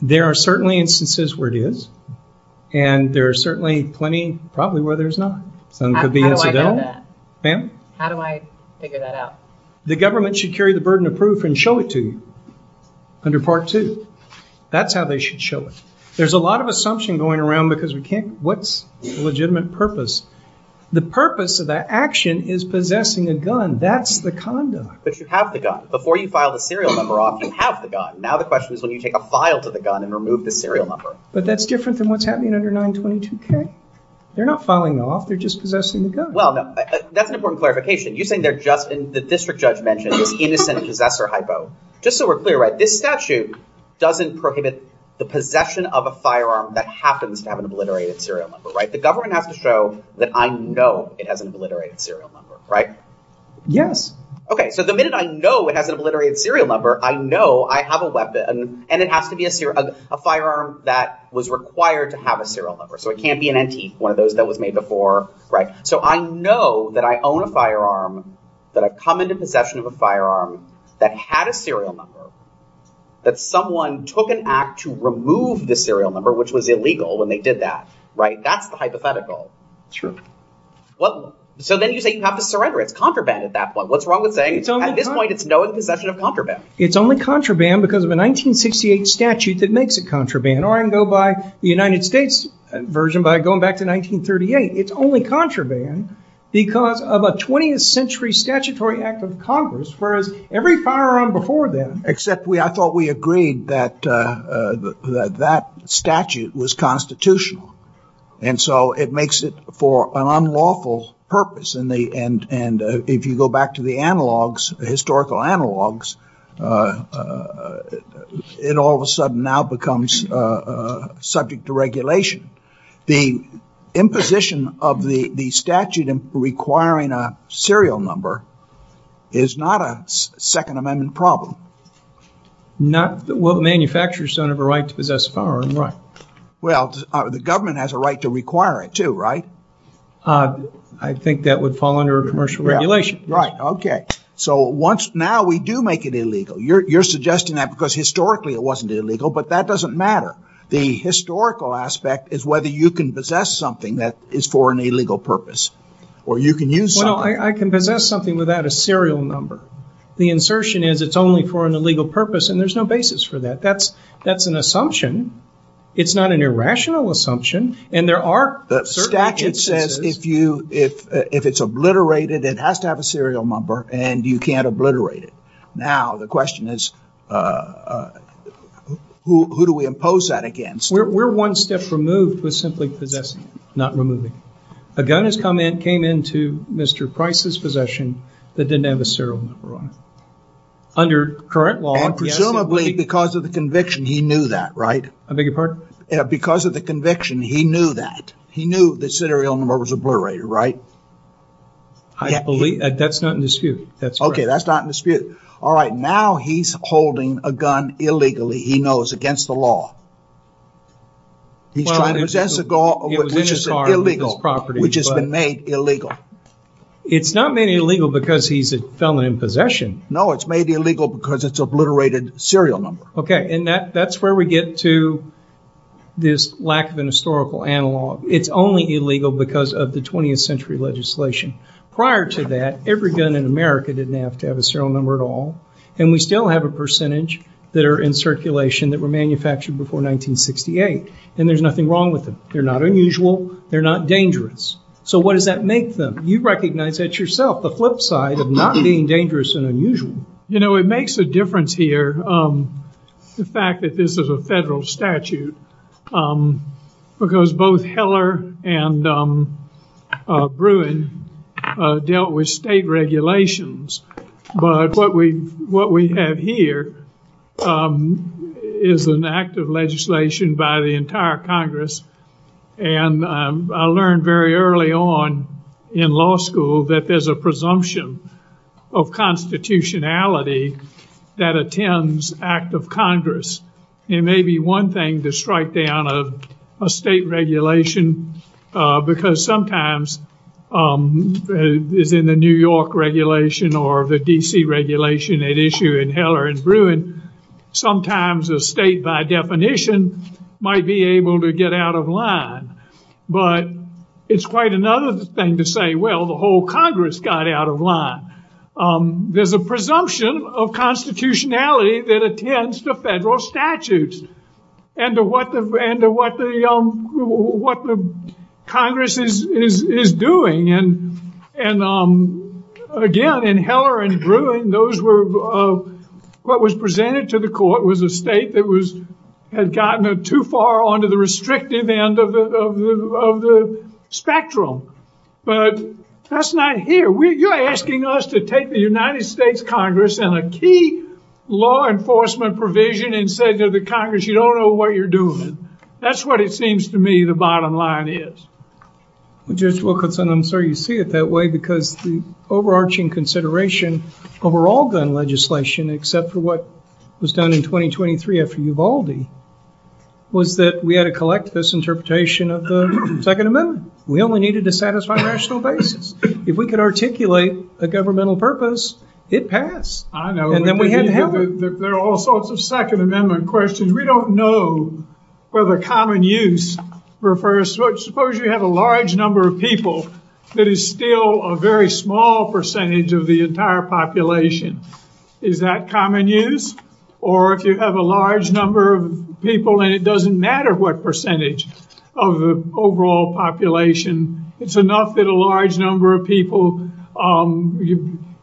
There are certainly instances where it is. And there are certainly plenty, probably, where there's not. How do I figure that out? The government should carry the burden of proof and show it to you under Part 2. That's how they should show it. There's a lot of assumption going around because we can't, what's the legitimate purpose? The purpose of that action is possessing a gun. That's the condom. But you have the gun. Before you file the serial number off, you have the gun. Now the question is when you take a file to the gun and remove the serial number. But that's different than what's happening under 922K. They're not filing them off. They're just possessing the gun. Well, that's an important clarification. You think they're just, the district judge mentioned an innocent possessor hypo. Just so we're clear, this statute doesn't prohibit the possession of a firearm that happens to have an obliterated serial number, right? The government has to show that I know it has an obliterated serial number, right? Yes. OK, so the minute I know it has an obliterated serial number, I know I have a weapon and it has to be a firearm that was required to have a serial number. So it can't be an antique, one of those that was made before, right? So I know that I own a firearm, that I come into possession of a firearm that had a serial number, that someone took an act to remove the serial number, which was illegal when they did that, right? That's hypothetical. True. Well, so then you say you have to surrender. It's contraband at that point. What's wrong with saying at this point it's known possession of contraband? It's only contraband because of a 1968 statute that makes it contraband. Or I can go by the United States version by going back to 1938. It's only contraband because of a 20th century statutory act of Congress. Whereas every firearm before then, except I thought we agreed that that statute was constitutional. And so it makes it for an unlawful purpose. And if you go back to the analogs, the historical analogs, it all of a sudden now becomes subject to regulation. The imposition of the statute requiring a serial number is not a Second Amendment problem. Not what manufacturers have a right to possess firearms, right? Well, the government has a right to require it, too, right? I think that would fall under commercial regulation. Right. OK. So once now we do make it illegal, you're suggesting that because historically it wasn't illegal. But that doesn't matter. The historical aspect is whether you can possess something that is for an illegal purpose or you can use. Well, I can possess something without a serial number. The insertion is it's only for an illegal purpose. And there's no basis for that. That's that's an assumption. It's not an irrational assumption. And there are that statute says if you if if it's obliterated, it has to have a serial number and you can't obliterate it. Now, the question is, who do we impose that against? We're one step removed with simply possessing, not removing a gun. His comment came into Mr. Price's possession that didn't have a serial number. Under current law, presumably because of the conviction, he knew that. Right. I beg your pardon? Because of the conviction, he knew that he knew the serial number was obliterated. Right. I can't believe that. That's not in dispute. That's OK. That's not in dispute. All right. Now he's holding a gun illegally, he knows, against the law. He's trying to possess a gun which is illegal, which has been made illegal. It's not made illegal because he's a felon in possession. No, it's made illegal because it's obliterated serial number. OK. And that's where we get to this lack of a historical analog. It's only illegal because of the 20th century legislation. Prior to that, every gun in America didn't have to have a serial number at all. And we still have a percentage that are in circulation that were manufactured before 1968. And there's nothing wrong with them. They're not unusual. They're not dangerous. So what does that make them? You recognize that yourself, the flip side of not being dangerous and unusual. You know, it makes a difference here. The fact that this is a federal statute, because both Heller and Bruin dealt with state regulations. But what we what we have here is an act of legislation by the entire Congress. And I learned very early on in law school that there's a presumption of constitutionality that attends act of Congress. It may be one thing to strike down a state regulation because sometimes in the New York regulation or the D.C. regulation at issue in Heller and Bruin, sometimes a state by definition might be able to get out of line. But it's quite another thing to say, well, the whole Congress got out of line. There's a presumption of constitutionality that attends to federal statutes and to what the Congress is doing. And again, in Heller and Bruin, what was presented to the court was a state that had gotten too far onto the restrictive end of the spectrum. But that's not here. You're asking us to take the United States Congress and a key law enforcement provision and say to the Congress, you don't know what you're doing. That's what it seems to me the bottom line is. Judge Wilkinson, I'm sorry you see it that way, because the overarching consideration over all gun legislation, except for what was done in 2023 after Uvalde, was that we had to collect this interpretation of the Second Amendment. We only needed to satisfy national basis. If we could articulate a governmental purpose, it passed. I know. And then we didn't have it. There are all sorts of Second Amendment questions. We don't know whether common use refers to, suppose you have a large number of people that is still a very small percentage of the entire population. Is that common use? Or if you have a large number of people and it doesn't matter what percentage of the overall population, it's enough that a large number of people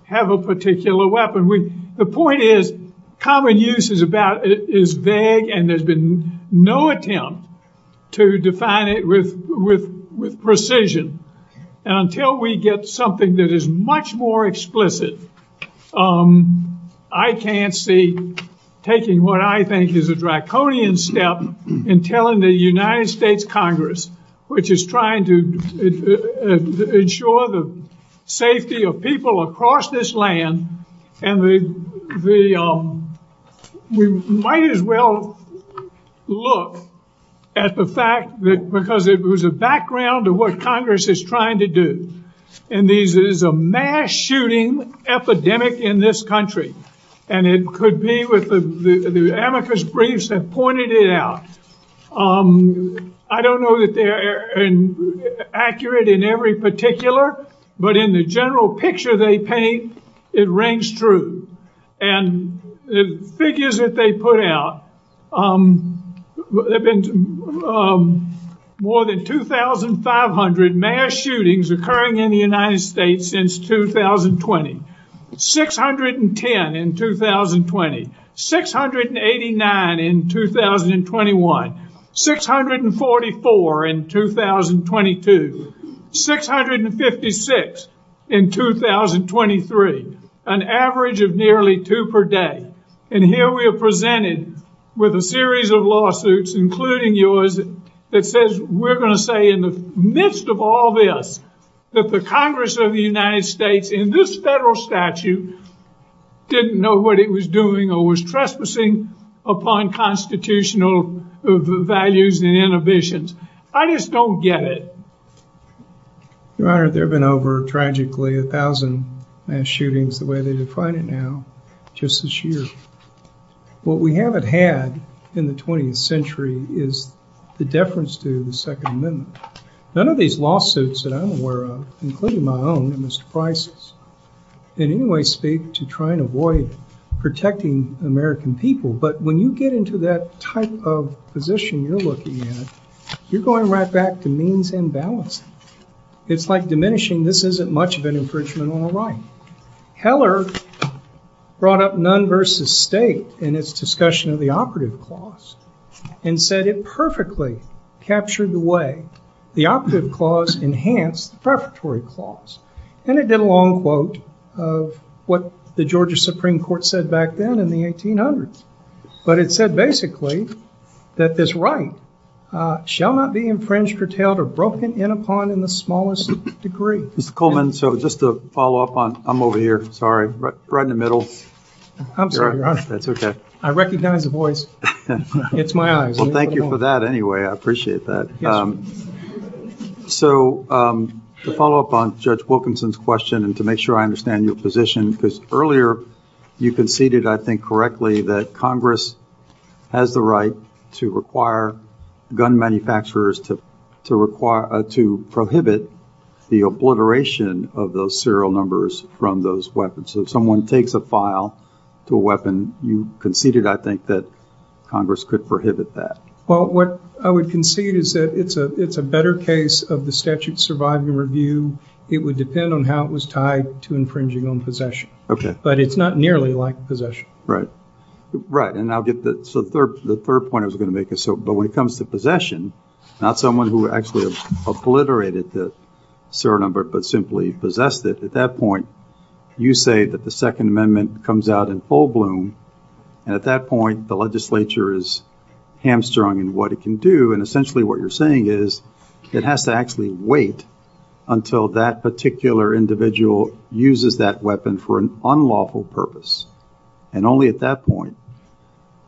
have a particular weapon. The point is, common use is vague and there's been no attempt to define it with precision. And until we get something that is much more explicit, I can't see taking what I think is a draconian step in telling the United States Congress, which is trying to ensure the safety of people across this land. And we might as well look at the fact that because it was a background of what Congress is trying to do. And this is a mass shooting epidemic in this country. And it could be with the amicus briefs that pointed it out. I don't know that they're accurate in every particular, but in the general picture they paint, it rings true. And the figures that they put out, there have been more than 2,500 mass shootings occurring in the United States since 2020. 610 in 2020. 689 in 2021. 644 in 2022. 656 in 2023. An average of nearly two per day. And here we are presented with a series of lawsuits, including yours, that says we're going to say in the midst of all this, that the Congress of the United States in this federal statute didn't know what it was doing, or was trespassing upon constitutional values and inhibitions. I just don't get it. Your Honor, there have been over, tragically, a thousand mass shootings, the way they define it now, just this year. What we haven't had in the 20th century is the deference to the Second Amendment. None of these lawsuits that I'm aware of, including my own, in this crisis, in any way speak to trying to avoid protecting American people. But when you get into that type of position you're looking at, you're going right back to means and balance. It's like diminishing, this isn't much of an infringement on our right. Heller brought up none versus state in its discussion of the operative clause and said it perfectly captured the way the operative clause enhanced the prefatory clause. And it did a long quote of what the Georgia Supreme Court said back then in the 1800s. But it said basically that this right shall not be infringed, curtailed or broken in upon in the smallest degree. Mr. Coleman, so just to follow up on, I'm over here, sorry, right in the middle. I'm sorry, Your Honor. That's okay. I recognize your voice. It's my eyes. Well, thank you for that anyway. I appreciate that. So to follow up on Judge Wilkinson's question and to make sure I understand your position, because earlier you conceded, I think correctly, that Congress has the right to require gun manufacturers to prohibit the obliteration of those serial numbers from those weapons. So if someone takes a file to a weapon, you conceded, I think, that Congress could prohibit that. Well, what I would concede is that it's a better case of the statute surviving review. It would depend on how it was tied to infringing on possession. Okay. But it's not nearly like possession. Right. Right. So the third point I was going to make is, but when it comes to possession, not someone who actually obliterated the serial number, but simply possessed it, at that point, you say that the Second Amendment comes out in full bloom. And at that point, the legislature is hamstrung in what it can do. And essentially what you're saying is it has to actually wait until that particular individual uses that weapon for an unlawful purpose. And only at that point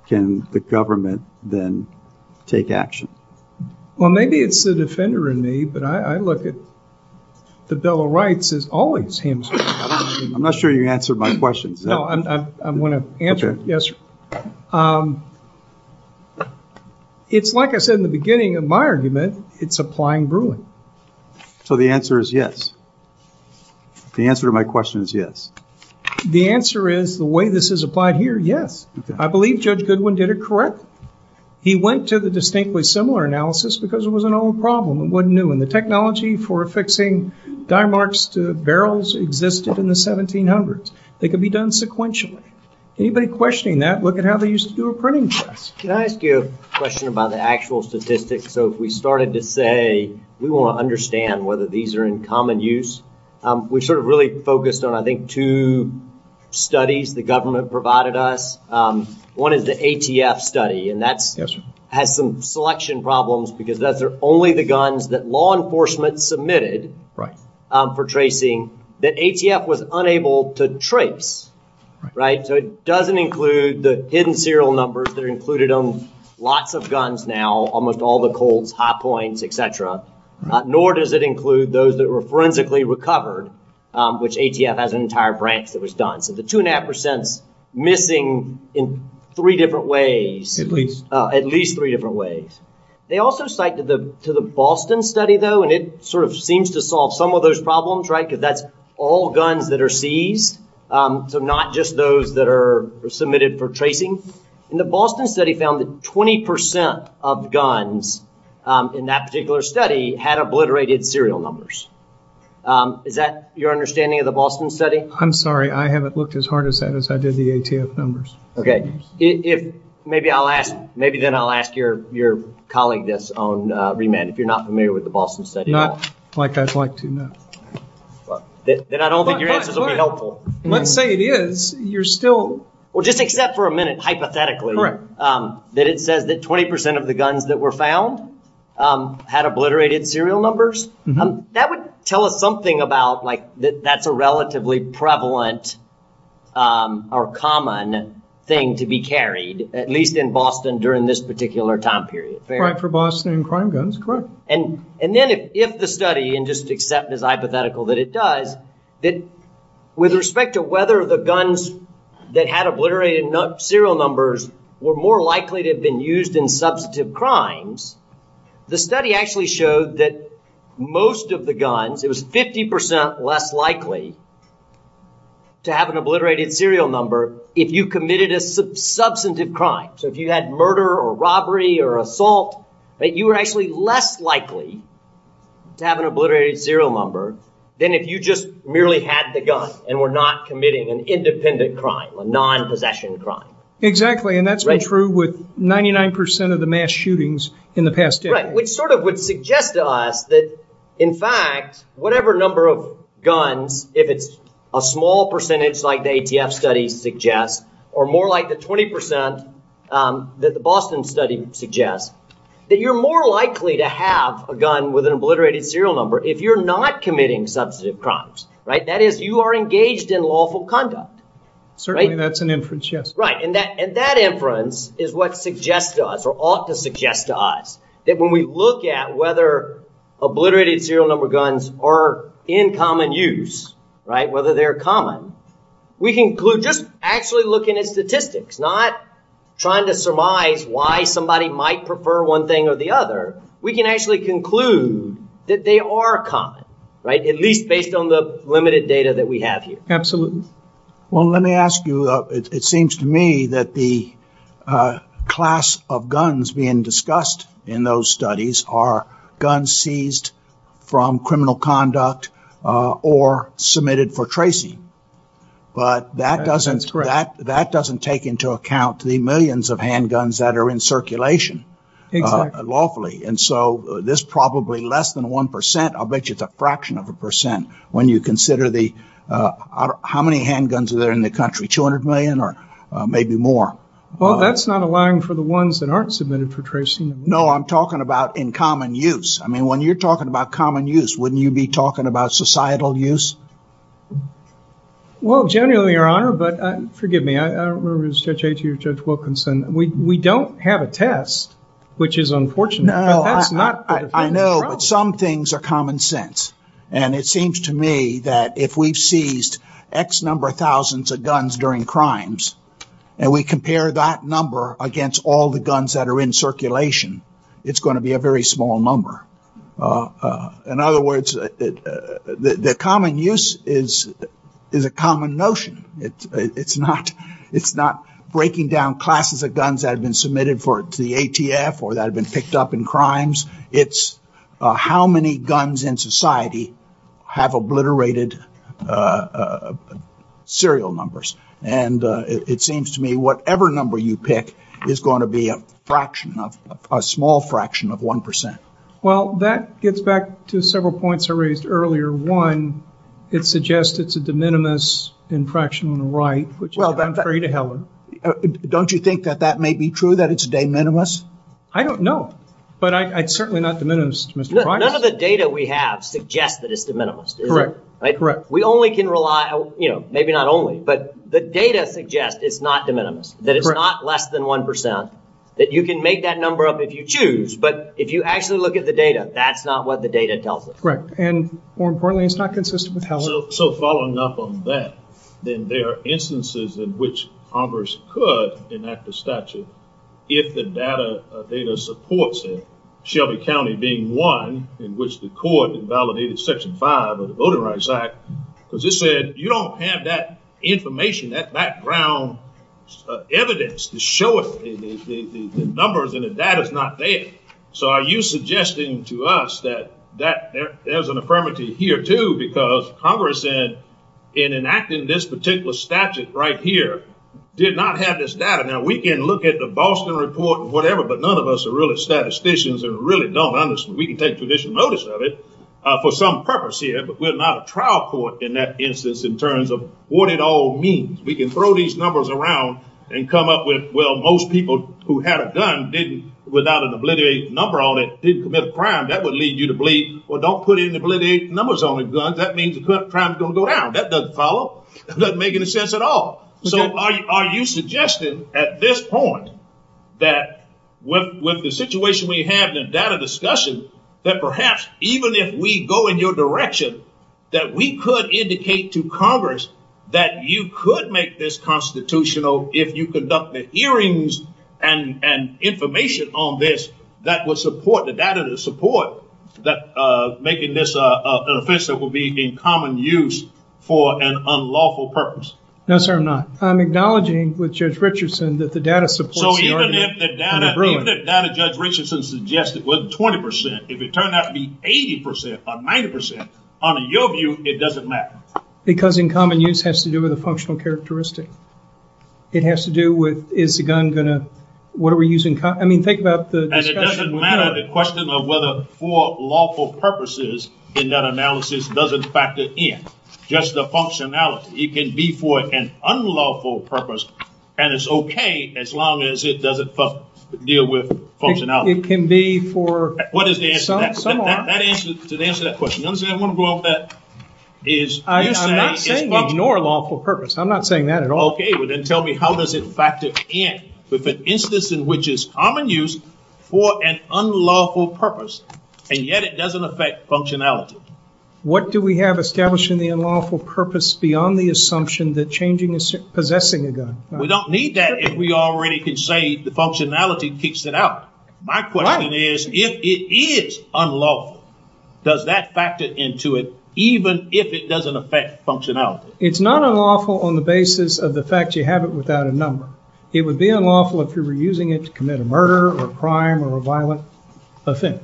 can the government then take action. Well, maybe it's the defender in me, but I look at the Bill of Rights as always hamstrung. I'm not sure you answered my question. No, I'm going to answer it. Yes. It's like I said in the beginning of my argument, it's a flying broom. So the answer is yes. The answer to my question is yes. The answer is the way this is applied here, yes. I believe Judge Goodwin did it correct. He went to the distinctly similar analysis because it was an old problem. It wasn't new. And the technology for fixing die marks to barrels existed in the 1700s. They could be done sequentially. Anybody questioning that, look at how they used to do a printing press. Can I ask you a question about the actual statistics? So if we started to say we want to understand whether these are in common use. We sort of really focused on, I think, two studies the government provided us. One is the ATF study. And that's had some selection problems because that's only the guns that law enforcement submitted for tracing. The ATF was unable to trace, right? So it doesn't include the hidden serial numbers that are included on lots of guns now, almost all the cold hot points, etc. Nor does it include those that were forensically recovered, which ATF has an entire branch that was done. So the two and a half percent missing in three different ways, at least three different ways. They also cited to the Boston study, though, and it sort of seems to solve some of those problems, right? Because that's all guns that are seized, so not just those that are submitted for tracing. And the Boston study found that 20 percent of guns in that particular study had obliterated serial numbers. Is that your understanding of the Boston study? I'm sorry, I haven't looked as hard at that as I did the ATF numbers. OK, if maybe I'll ask, maybe then I'll ask your colleague this on remand, if you're not familiar with the Boston study. Not like I'd like to know. Well, then I don't think your answers will be helpful. Let's say it is. You're still. Well, just accept for a minute, hypothetically, that it says that 20 percent of the guns that were found had obliterated serial numbers. That would tell us something about like that's a relatively prevalent or common thing to be carried, at least in Boston during this particular time period. For Boston crime guns, correct. And then if the study, and just accept this hypothetical that it does, that with respect to whether the guns that had obliterated serial numbers were more likely to have been used in substantive crimes, the study actually showed that most of the guns, it was 50 percent less likely to have an obliterated serial number if you committed a substantive crime. So if you had murder or robbery or assault, that you were actually less likely to have an obliterated serial number than if you just merely had the gun and were not committing an independent crime, a non-possession crime. Exactly. And that's been true with 99 percent of the mass shootings in the past decade. That's right, which sort of would suggest to us that, in fact, whatever number of guns, if it's a small percentage like the ATF study suggests, or more like the 20 percent that the Boston study suggests, that you're more likely to have a gun with an obliterated serial number if you're not committing substantive crimes, right? That is, you are engaged in lawful conduct. Certainly, that's an inference, yes. Right, and that inference is what suggests to us, or ought to suggest to us, that when we look at whether obliterated serial number guns are in common use, right, whether they're common, we conclude just actually looking at statistics, not trying to surmise why somebody might prefer one thing or the other, we can actually conclude that they are common, right, at least based on the limited data that we have here. Absolutely. Well, let me ask you, it seems to me that the class of guns being discussed in those studies are guns seized from criminal conduct or submitted for tracing. But that doesn't take into account the millions of handguns that are in circulation locally. And so this probably less than one percent, I'll bet you it's a fraction of a percent when you consider the, how many handguns are there in the country, 200 million or maybe more? Well, that's not allowing for the ones that aren't submitted for tracing. No, I'm talking about in common use. I mean, when you're talking about common use, wouldn't you be talking about societal use? Well, generally, Your Honor, but forgive me, I don't remember if it was Judge Atee or Judge Wilkinson, we don't have a test, which is unfortunate. No, I know some things are common sense. And it seems to me that if we seized X number of thousands of guns during crimes and we compare that number against all the guns that are in circulation, it's going to be a very small number. In other words, the common use is a common notion. It's not it's not breaking down classes of guns that have been submitted for the ATF or that have been picked up in crimes. It's how many guns in society have obliterated serial numbers. And it seems to me whatever number you pick is going to be a fraction of a small fraction of one percent. Well, that gets back to several points I raised earlier. One, it suggests it's a de minimis in fraction on the right, which is contrary to Helen. Don't you think that that may be true, that it's de minimis? I don't know, but I'd certainly not de minimis, Mr. None of the data we have suggests that it's de minimis, correct? We only can rely, you know, maybe not only, but the data suggests it's not de minimis, that it's not less than one percent, that you can make that number up if you choose. But if you actually look at the data, that's not what the data tells us. Correct. And more importantly, it's not consistent with Helen. So following up on that, then there are instances in which Congress could enact the statute if the data supports it. Shelby County being one in which the court invalidated Section 5 of the Voting Rights Act, because it said you don't have that information, that background evidence to show it, the numbers and the data is not there. So are you suggesting to us that there's an affirmative here, too, because Congress, in enacting this particular statute right here, did not have this data? Now, we can look at the Boston report or whatever, but none of us are really statisticians and really don't understand. We can take traditional notice of it for some purpose here, but we're not a trial court in that instance in terms of what it all means. We can throw these numbers around and come up with, well, most people who had a gun without an obliterated number on it didn't commit a crime. That would lead you to believe, well, don't put in obliterated numbers on a gun. That means the crime is going to go down. That doesn't make any sense at all. So are you suggesting at this point that with the situation we have and data discussion, that perhaps even if we go in your direction, that we could indicate to Congress that you could make this constitutional if you conducted hearings and information on this that would support the data to support making this an offense that would be in common use for an unlawful purpose? No, sir, I'm not. I'm acknowledging with Judge Richardson that the data support. So even if the data, even if the data Judge Richardson suggested wasn't 20%, if it turned out to be 80% or 90%, on your view, it doesn't matter. Because in common use has to do with a functional characteristic. It has to do with, is the gun going to, what are we using? I mean, think about the. And it doesn't matter the question of whether for lawful purposes in that analysis doesn't factor in. Just the functionality. It can be for an unlawful purpose and it's okay as long as it doesn't deal with functionality. It can be for. What is the answer to that question? You understand what I'm going to go off that? Is. I'm not saying lawful purpose. I'm not saying that at all. Okay, well then tell me how does it factor in with an instance in which is common use for an unlawful purpose and yet it doesn't affect functionality. What do we have establishing the unlawful purpose beyond the assumption that changing is possessing a gun? We don't need that if we already can say the functionality kicks it out. My question is, if it is unlawful, does that factor into it, even if it doesn't affect functionality? It's not unlawful on the basis of the fact you have it without a number. It would be unlawful if you were using it to commit a murder or a crime or a violent offender.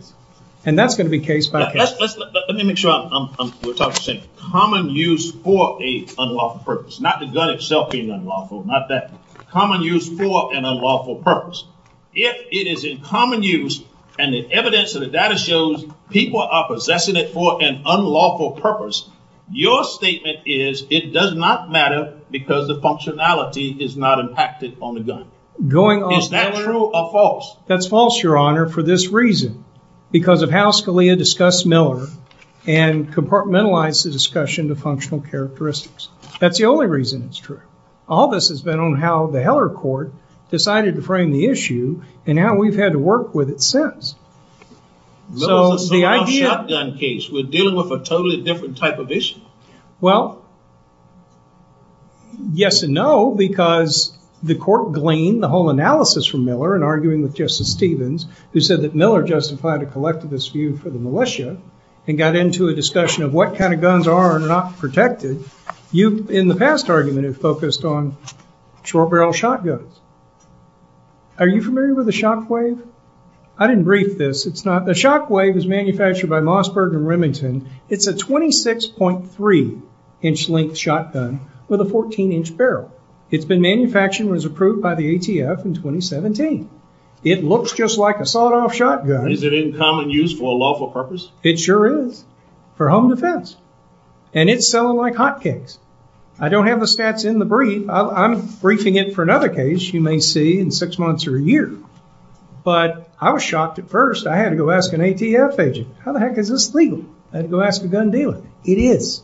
And that's going to be case by case. Let me make sure I'm talking to you. Common use for a unlawful purpose. Not the gun itself being unlawful. Not that. Common use for an unlawful purpose. If it is in common use and the evidence of the data shows people are possessing it for an unlawful purpose, your statement is it does not matter because the functionality is not impacted on the gun. Is that true or false? That's false, Your Honor, for this reason. Because of how Scalia discussed Miller and compartmentalized the discussion to functional characteristics. That's the only reason it's true. All this has been on how the Heller court decided to frame the issue and how we've had to work with it since. So the idea of a gun case would deal with a totally different type of issue. Well, yes and no, because the court gleaned the whole analysis from Miller in arguing with Justice Stevens, who said that Miller justified a collectivist view for the militia and got into a discussion of what kind of guns are not protected. You, in the past argument, have focused on short barrel shotguns. Are you familiar with the Shockwave? I didn't brief this. It's not the Shockwave is manufactured by Mossberg and Remington. It's a 26.3 inch length shotgun with a 14 inch barrel. It's been manufactured and was approved by the ATF in 2017. It looks just like a sawed off shotgun. Is it in common use for a lawful purpose? It sure is. For home defense. And it's selling like hotcakes. I don't have the stats in the brief. I'm briefing it for another case you may see in six months or a year. But I was shocked at first. I had to go ask an ATF agent, how the heck is this legal? I had to go ask a gun dealer. It is.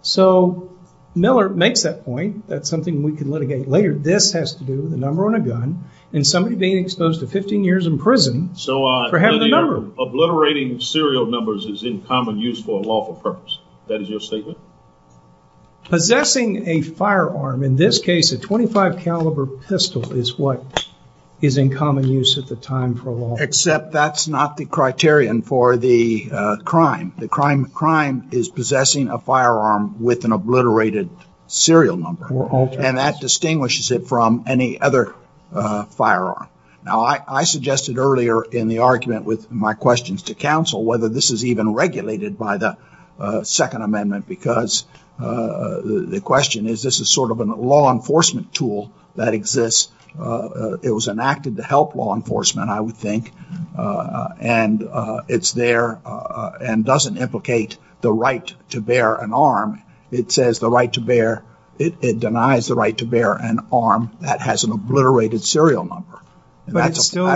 So Miller makes that point. That's something we can litigate later. This has to do with the number on a gun and somebody being exposed to 15 years in prison for having a number. Obliterating serial numbers is in common use for a lawful purpose. That is your statement? Possessing a firearm, in this case a 25 caliber pistol, is what is in common use at the time for law. Except that's not the criterion for the crime. The crime is possessing a firearm with an obliterated serial number. And that distinguishes it from any other firearm. Now, I suggested earlier in the argument with my questions to counsel whether this is even regulated by the Second Amendment. Because the question is, this is sort of a law enforcement tool that exists. It was enacted to help law enforcement, I would think. And it's there and doesn't implicate the right to bear an arm. It says the right to bear. It denies the right to bear an arm that has an obliterated serial number. But it's still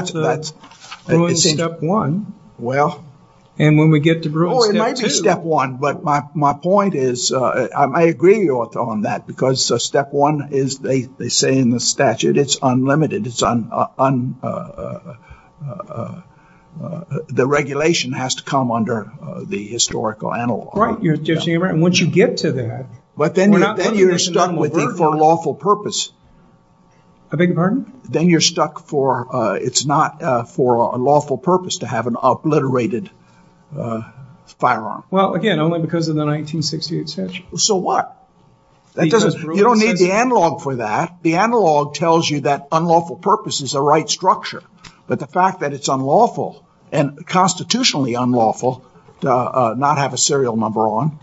step one. Well, and when we get to rule step one. But my point is I agree on that because step one is they say in the statute it's unlimited. It's on the regulation has to come under the historical analog. Right, Judge Haberman. And once you get to that. But then you're stuck with it for a lawful purpose. I beg your pardon? Then you're stuck for it's not for a lawful purpose to have an obliterated firearm. Well, again, only because of the 1968 statute. So what? That doesn't you don't need the analog for that. The analog tells you that unlawful purpose is the right structure. But the fact that it's unlawful and constitutionally unlawful to not have a serial number on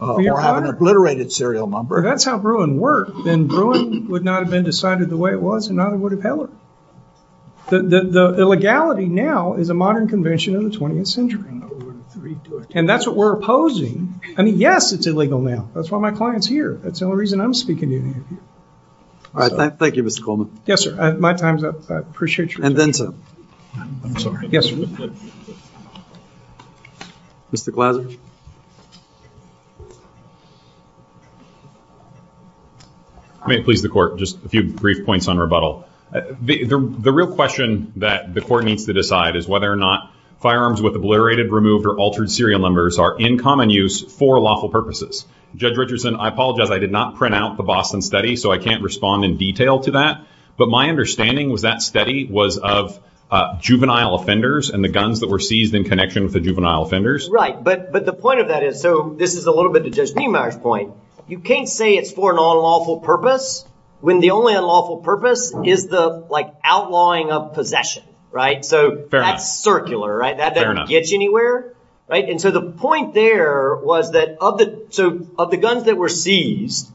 or have an obliterated serial number. That's how Bruin worked and Bruin would not have been decided the way it was and I would have held it. The legality now is a modern convention of the 20th century. And that's what we're opposing. I mean, yes, it's illegal now. That's why my client's here. That's the only reason I'm speaking. Thank you, Mr. Coleman. Yes, sir. My time's up. I appreciate you. And then, sir. I'm sorry. Yes. Mr. Glazer. I may please the court. Just a few brief points on rebuttal. The real question that the court needs to decide is whether or not firearms with obliterated, removed or altered serial numbers are in common use for lawful purposes. Judge Richardson, I apologize. I did not print out the Boston study, so I can't respond in detail to that. But my understanding was that study was of juvenile offenders and the guns that were seized in connection with the juvenile offenders. Right. But the point of that is, so this is a little bit the Judge Greenbier's point. You can't say it's for an unlawful purpose when the only unlawful purpose is the outlawing of possession. Right. So that's circular, right? That doesn't get you anywhere. Right. And so the point there was that of the guns that were seized,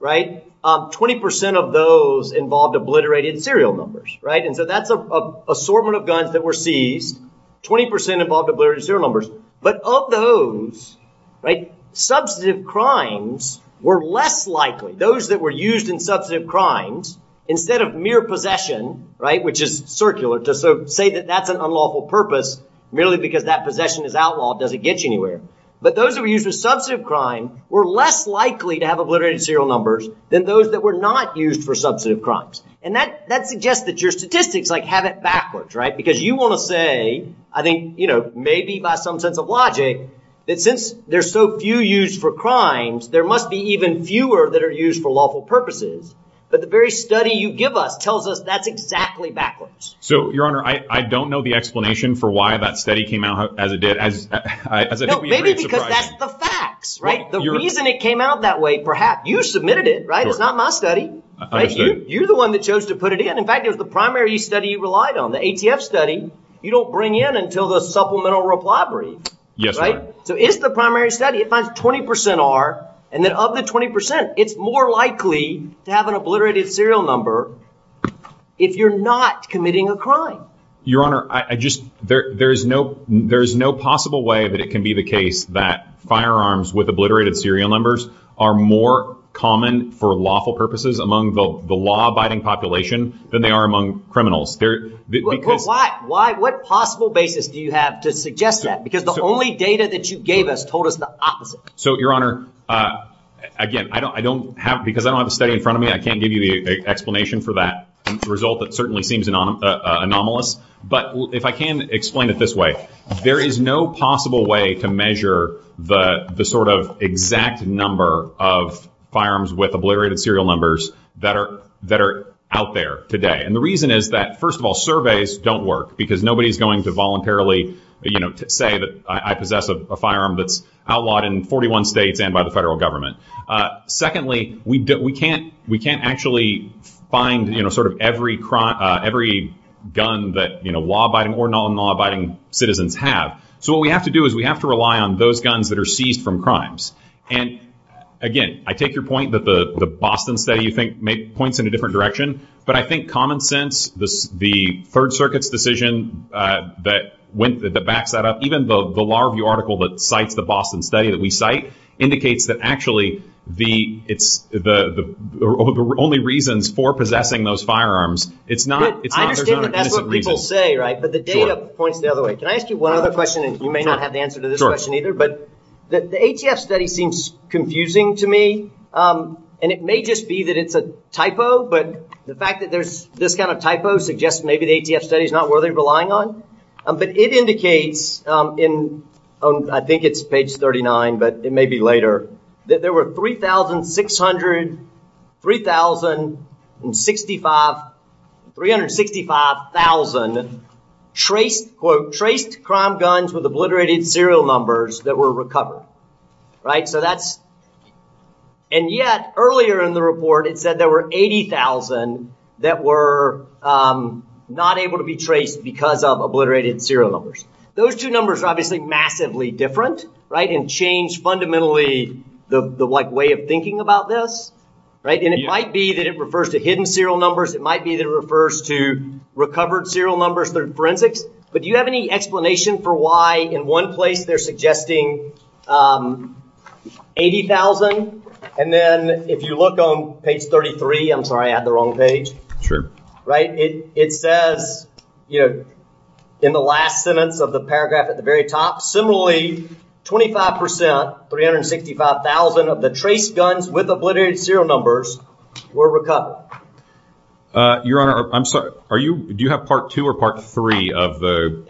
right, 20 percent of those involved obliterated serial numbers. Right. And so that's an assortment of guns that were seized, 20 percent involved obliterated serial numbers. But of those, right, substantive crimes were less likely. Those that were used in substantive crimes, instead of mere possession, right, which is circular, to say that that's an unlawful purpose merely because that doesn't get you anywhere. But those that were used in substantive crimes were less likely to have obliterated serial numbers than those that were not used for substantive crimes. And that suggests that your statistics, like, have it backwards. Right. Because you want to say, I think, you know, maybe by some sense of logic, that since there's so few used for crimes, there must be even fewer that are used for lawful purposes. But the very study you give us tells us that's exactly backwards. So, Your Honor, I don't know the explanation for why that study came out as it did. And maybe because that's the facts, right? The reason it came out that way, perhaps you submitted it. Right. It's not my study. You're the one that chose to put it in. In fact, it was the primary study you relied on, the ATF study. You don't bring in until the supplemental reply brief. Yes. Right. So it's the primary study. It finds 20 percent are. And then of the 20 percent, it's more likely to have an obliterated serial number if you're not committing a crime. Your Honor, I just there's no there's no possible way that it can be the case that firearms with obliterated serial numbers are more common for lawful purposes among the law abiding population than they are among criminals. Why? Why? What possible basis do you have to suggest that? Because the only data that you gave us told us. So, Your Honor, again, I don't I don't have because I don't have a study in front of me. I can't give you the explanation for that result. It certainly seems anomalous, but if I can explain it this way, there is no possible way to measure the sort of exact number of firearms with obliterated serial numbers that are that are out there today. And the reason is that, first of all, surveys don't work because nobody's going to voluntarily say that I possess a firearm that's outlawed in 41 states and by the federal government. Secondly, we don't we can't we can't actually find, you know, sort of every crime, every gun that law abiding or non law abiding citizens have. So what we have to do is we have to rely on those guns that are seized from crimes. And again, I take your point that the Boston study points in a different direction. But I think common sense, the Third Circuit's decision that went the back that up, even though the Law Review article that cites the Boston study that we cite indicates that actually the it's the only reasons for possessing those firearms. It's not what people say. Right. But the data points the other way. Can I ask you one other question? And you may not have the answer to this question either, but the ATF study seems confusing to me. And it may just be that it's a typo. But the fact that there's this kind of typo suggests maybe the ATF study is not worthy of relying on. But it indicates in, I think it's page 39, but it may be later, that there were three thousand six hundred, three thousand and sixty five, three hundred sixty five thousand traced quote traced crime guns with obliterated serial numbers that were recovered. Right. So that's. And yet earlier in the report, it said there were 80,000 that were not able to be traced because of obliterated serial numbers. Those two numbers are obviously massively different. Right. And change fundamentally the way of thinking about this. Right. And it might be that it refers to hidden serial numbers. It might be that it refers to recovered serial numbers. They're forensic. But do you have any explanation for why in one place they're suggesting 80,000? And then if you look on page 33, I'm sorry, I have the wrong page. Sure. Right. It says, you know, in the last sentence of the paragraph at the very top, similarly, twenty five percent, three hundred sixty five thousand of the traced guns with obliterated serial numbers were recovered. Your Honor, I'm sorry, are you do you have part two or part three of the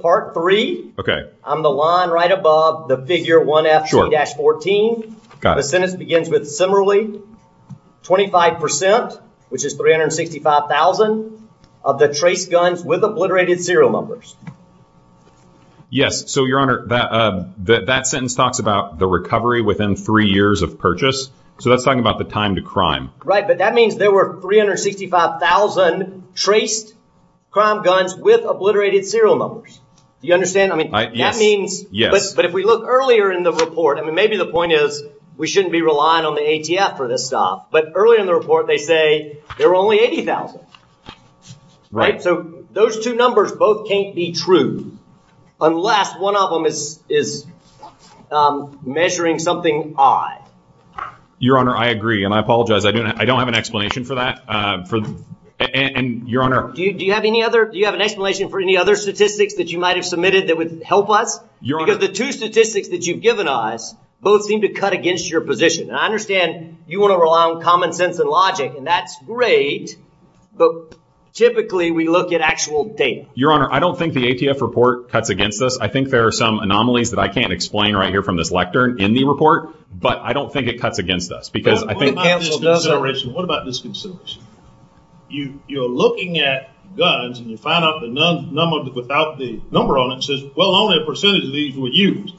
part three? OK, I'm the line right above the figure. Sure. Dash 14. Got it. Then it begins with similarly twenty five percent, which is three hundred sixty five thousand of the traced guns with obliterated serial numbers. Yes. So, Your Honor, that sentence talks about the recovery within three years of purchase. So that's talking about the time to crime. Right. But that means there were three hundred sixty five thousand traced crime guns with obliterated serial numbers. You understand? I mean, yeah, I mean, yeah, but if we look earlier in the report, I mean, maybe the point is we shouldn't be relying on the ATF for this stuff. But early in the report, they say there were only 80,000. Right. So those two numbers both can't be true unless one of them is is measuring something odd. Your Honor, I agree. And I apologize. I don't I don't have an explanation for that. And your honor, do you have any other do you have an explanation for any other statistics that you might have submitted that would help us? Your honor, the two statistics that you've given us both seem to cut against your position. And I understand you want to rely on common sense and logic. And that's great. But typically we look at actual data. Your Honor, I don't think the ATF report cuts against us. I think there are some anomalies that I can't explain right here from this lecture in the report. But I don't think it cuts against us because I think. What about this consideration? You're looking at guns and you find out the number without the number on it says, well, only a percentage of these were used.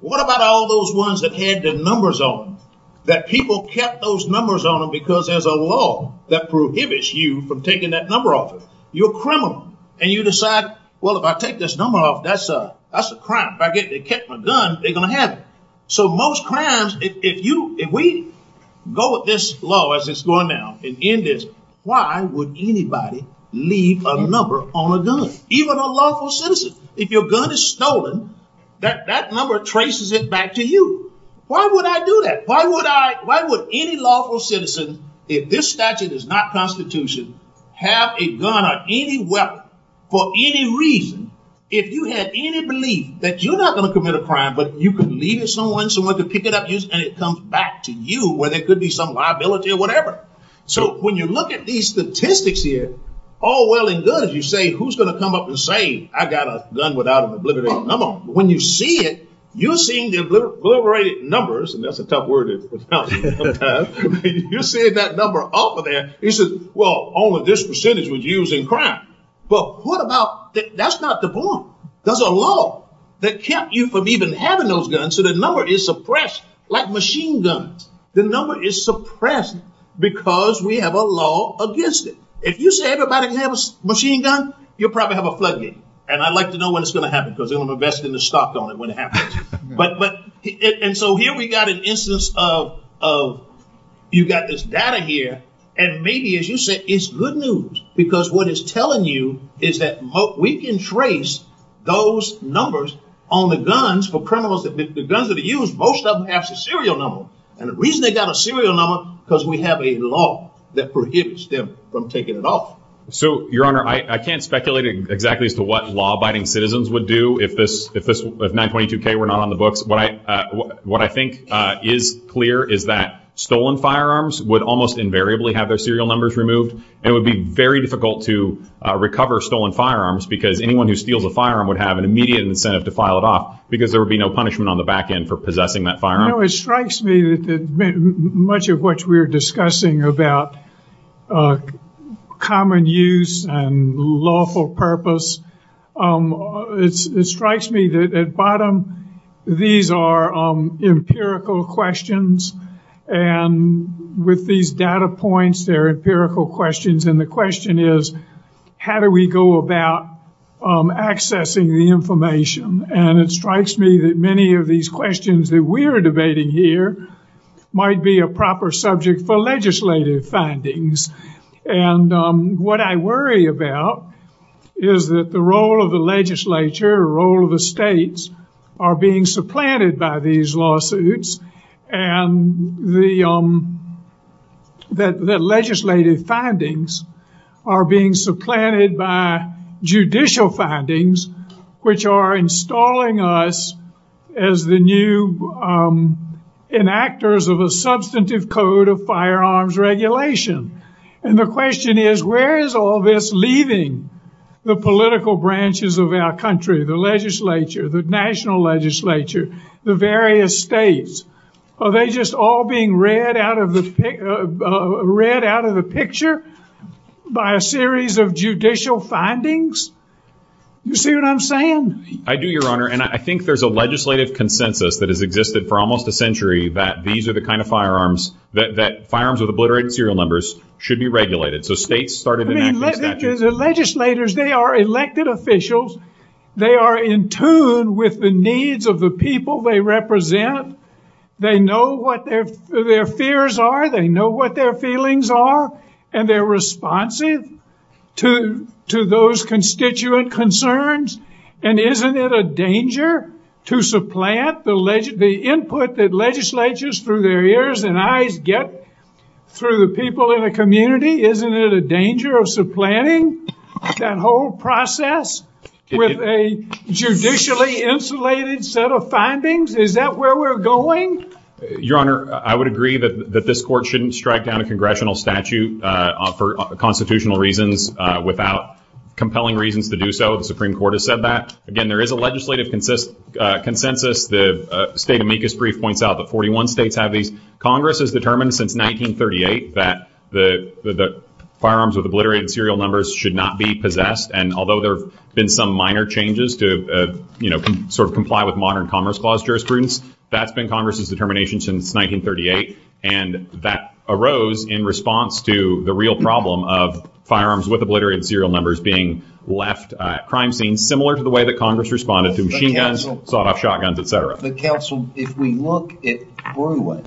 What about all those ones that had the numbers on them? That people kept those numbers on them because there's a law that prohibits you from taking that number off. You're a criminal and you decide, well, if I take this number off, that's a crime. If I get my gun, they're going to have it. So most crimes, if we go with this law as it's going now and end this, why would anybody leave a number on a gun, even a lawful citizen? If your gun is stolen, that number traces it back to you. Why would I do that? Why would any lawful citizen, if this statute is not constitutional, have a gun or any weapon for any reason? If you have any belief that you're not going to commit a crime, but you can leave it to someone, someone to pick it up and it comes back to you where there could be some liability or whatever. So when you look at these statistics here, all well and good, you say, who's going to come up and say, I got a gun without an obliterated number? When you see it, you're seeing the obliterated numbers, and that's a tough word to pronounce, you're seeing that number off of there, you say, well, only this percentage was used in crime. But what about, that's not the point, there's a law that kept you from even having those guns, so the number is suppressed, like machine guns, the number is suppressed because we have a law against it. If you say everybody can have a machine gun, you'll probably have a plug-in, and I'd like to know when it's going to happen, because then I'm investing the stock on it when it happens. But, and so here we've got an instance of, you've got this data here, and maybe as you said, it's good news, because what it's telling you is that we can trace those numbers on the guns for criminals, the guns that are used, most of them have a serial number, and the reason they've got a serial number is because we have a law that prohibits them from taking it off. So, your honor, I can't speculate exactly as to what law-abiding citizens would do if 922K were not on the books, but what I think is clear is that stolen firearms would almost invariably have their serial numbers removed, and it would be very difficult to recover stolen firearms, because anyone who steals a firearm would have an immediate incentive to file it off, because there would be no punishment on the back end for possessing that firearm. It strikes me that much of what we're discussing about common use and lawful purpose, it strikes me that at bottom, these are empirical questions, and with these data points, they're empirical questions, and the question is, how do we go about accessing the information? And it strikes me that many of these questions that we're debating here might be a proper subject for legislative findings, and what I worry about is that the role of the legislature, the role of the states, are being supplanted by these lawsuits, and the legislative findings are being supplanted by judicial findings, which are installing us as the new enactors of a substantive code of firearms regulation. And the question is, where is all this leaving the political branches of our country, the legislature, the national legislature, the various states? Are they just all being read out of the picture by a series of judicial findings? Do you see what I'm saying? I do, your honor, and I think there's a legislative consensus that has existed for almost a century that these are the kind of firearms, that firearms with obliterated serial numbers should be regulated, so states started enacting that. The legislators, they are elected officials. They are in tune with the needs of the people they represent. They know what their fears are. They know what their feelings are, and they're responsive to those constituent concerns, and isn't it a danger to supplant the input that legislatures through their ears and eyes get through the people in the community? Isn't it a danger of supplanting that whole process with a judicially insulated set of findings? Is that where we're going? Your honor, I would agree that this court shouldn't strike down a congressional statute for constitutional reasons without compelling reasons to do so. The Supreme Court has said that. Again, there is a legislative consensus. The state amicus brief points out that 41 states have these. Congress has determined since 1938 that the firearms with obliterated serial numbers should not be possessed, and although there have been some minor changes to sort of comply with modern commerce clause jurisprudence, that's been Congress's determination since 1938, and that arose in response to the real problem of firearms with obliterated serial numbers being left at crime scenes, similar to the way that Congress responded to machine guns, sawed-off shotguns, etc. Counsel, if we look at Bruin,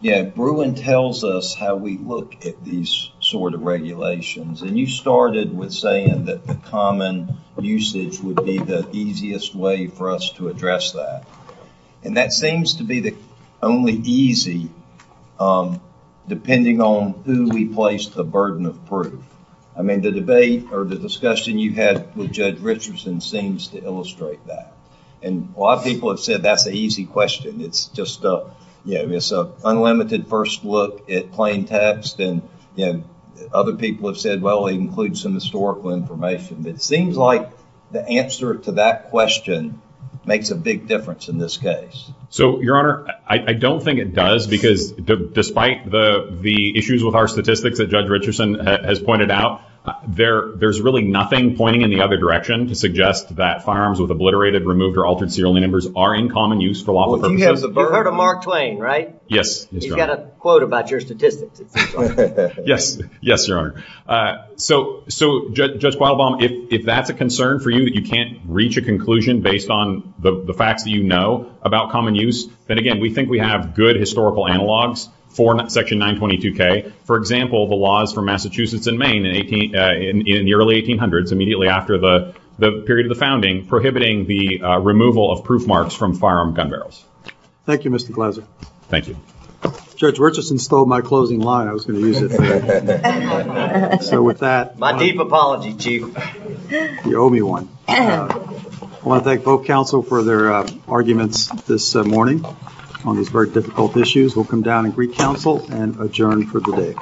yeah, Bruin tells us how we look at these sort of regulations, and you started with saying that the common usage would be the easiest way for us to address that, and that seems to be the only easy, depending on who we place the burden of proof. I mean, the debate or the discussion you had with Judge Richardson seems to illustrate that, and a lot of people have said that's an easy question. It's just an unlimited first look at plain text, and other people have said, well, it includes some historical information. It seems like the answer to that question makes a big difference in this case. So, Your Honor, I don't think it does, because despite the issues with our statistics that Judge Richardson has pointed out, there's really nothing pointing in the other direction to suggest that firearms with obliterated, removed, or altered serial numbers are in common use for a lot of them. You've heard of Mark Twain, right? Yes. You've got a quote about your statistics. Yes, Your Honor. So, Judge Qualbaum, if that's a concern for you, that you can't reach a conclusion based on the fact that you know about common use, then again, we think we have good historical analogs for Section 922K. For example, the laws for Massachusetts and Maine in the early 1800s, immediately after the period of the founding, prohibiting the removal of proof marks from firearm gun barrels. Thank you, Mr. Glaser. Thank you. Judge Richardson stole my closing line. I was going to use it. My deep apology, Chief. You owe me one. I want to thank both counsel for their arguments this morning on these very difficult issues. We'll come down and greet counsel and adjourn for the day.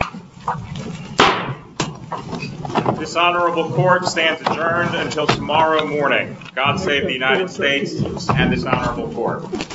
This honorable court stands adjourned until tomorrow morning. God save the United States and this honorable court.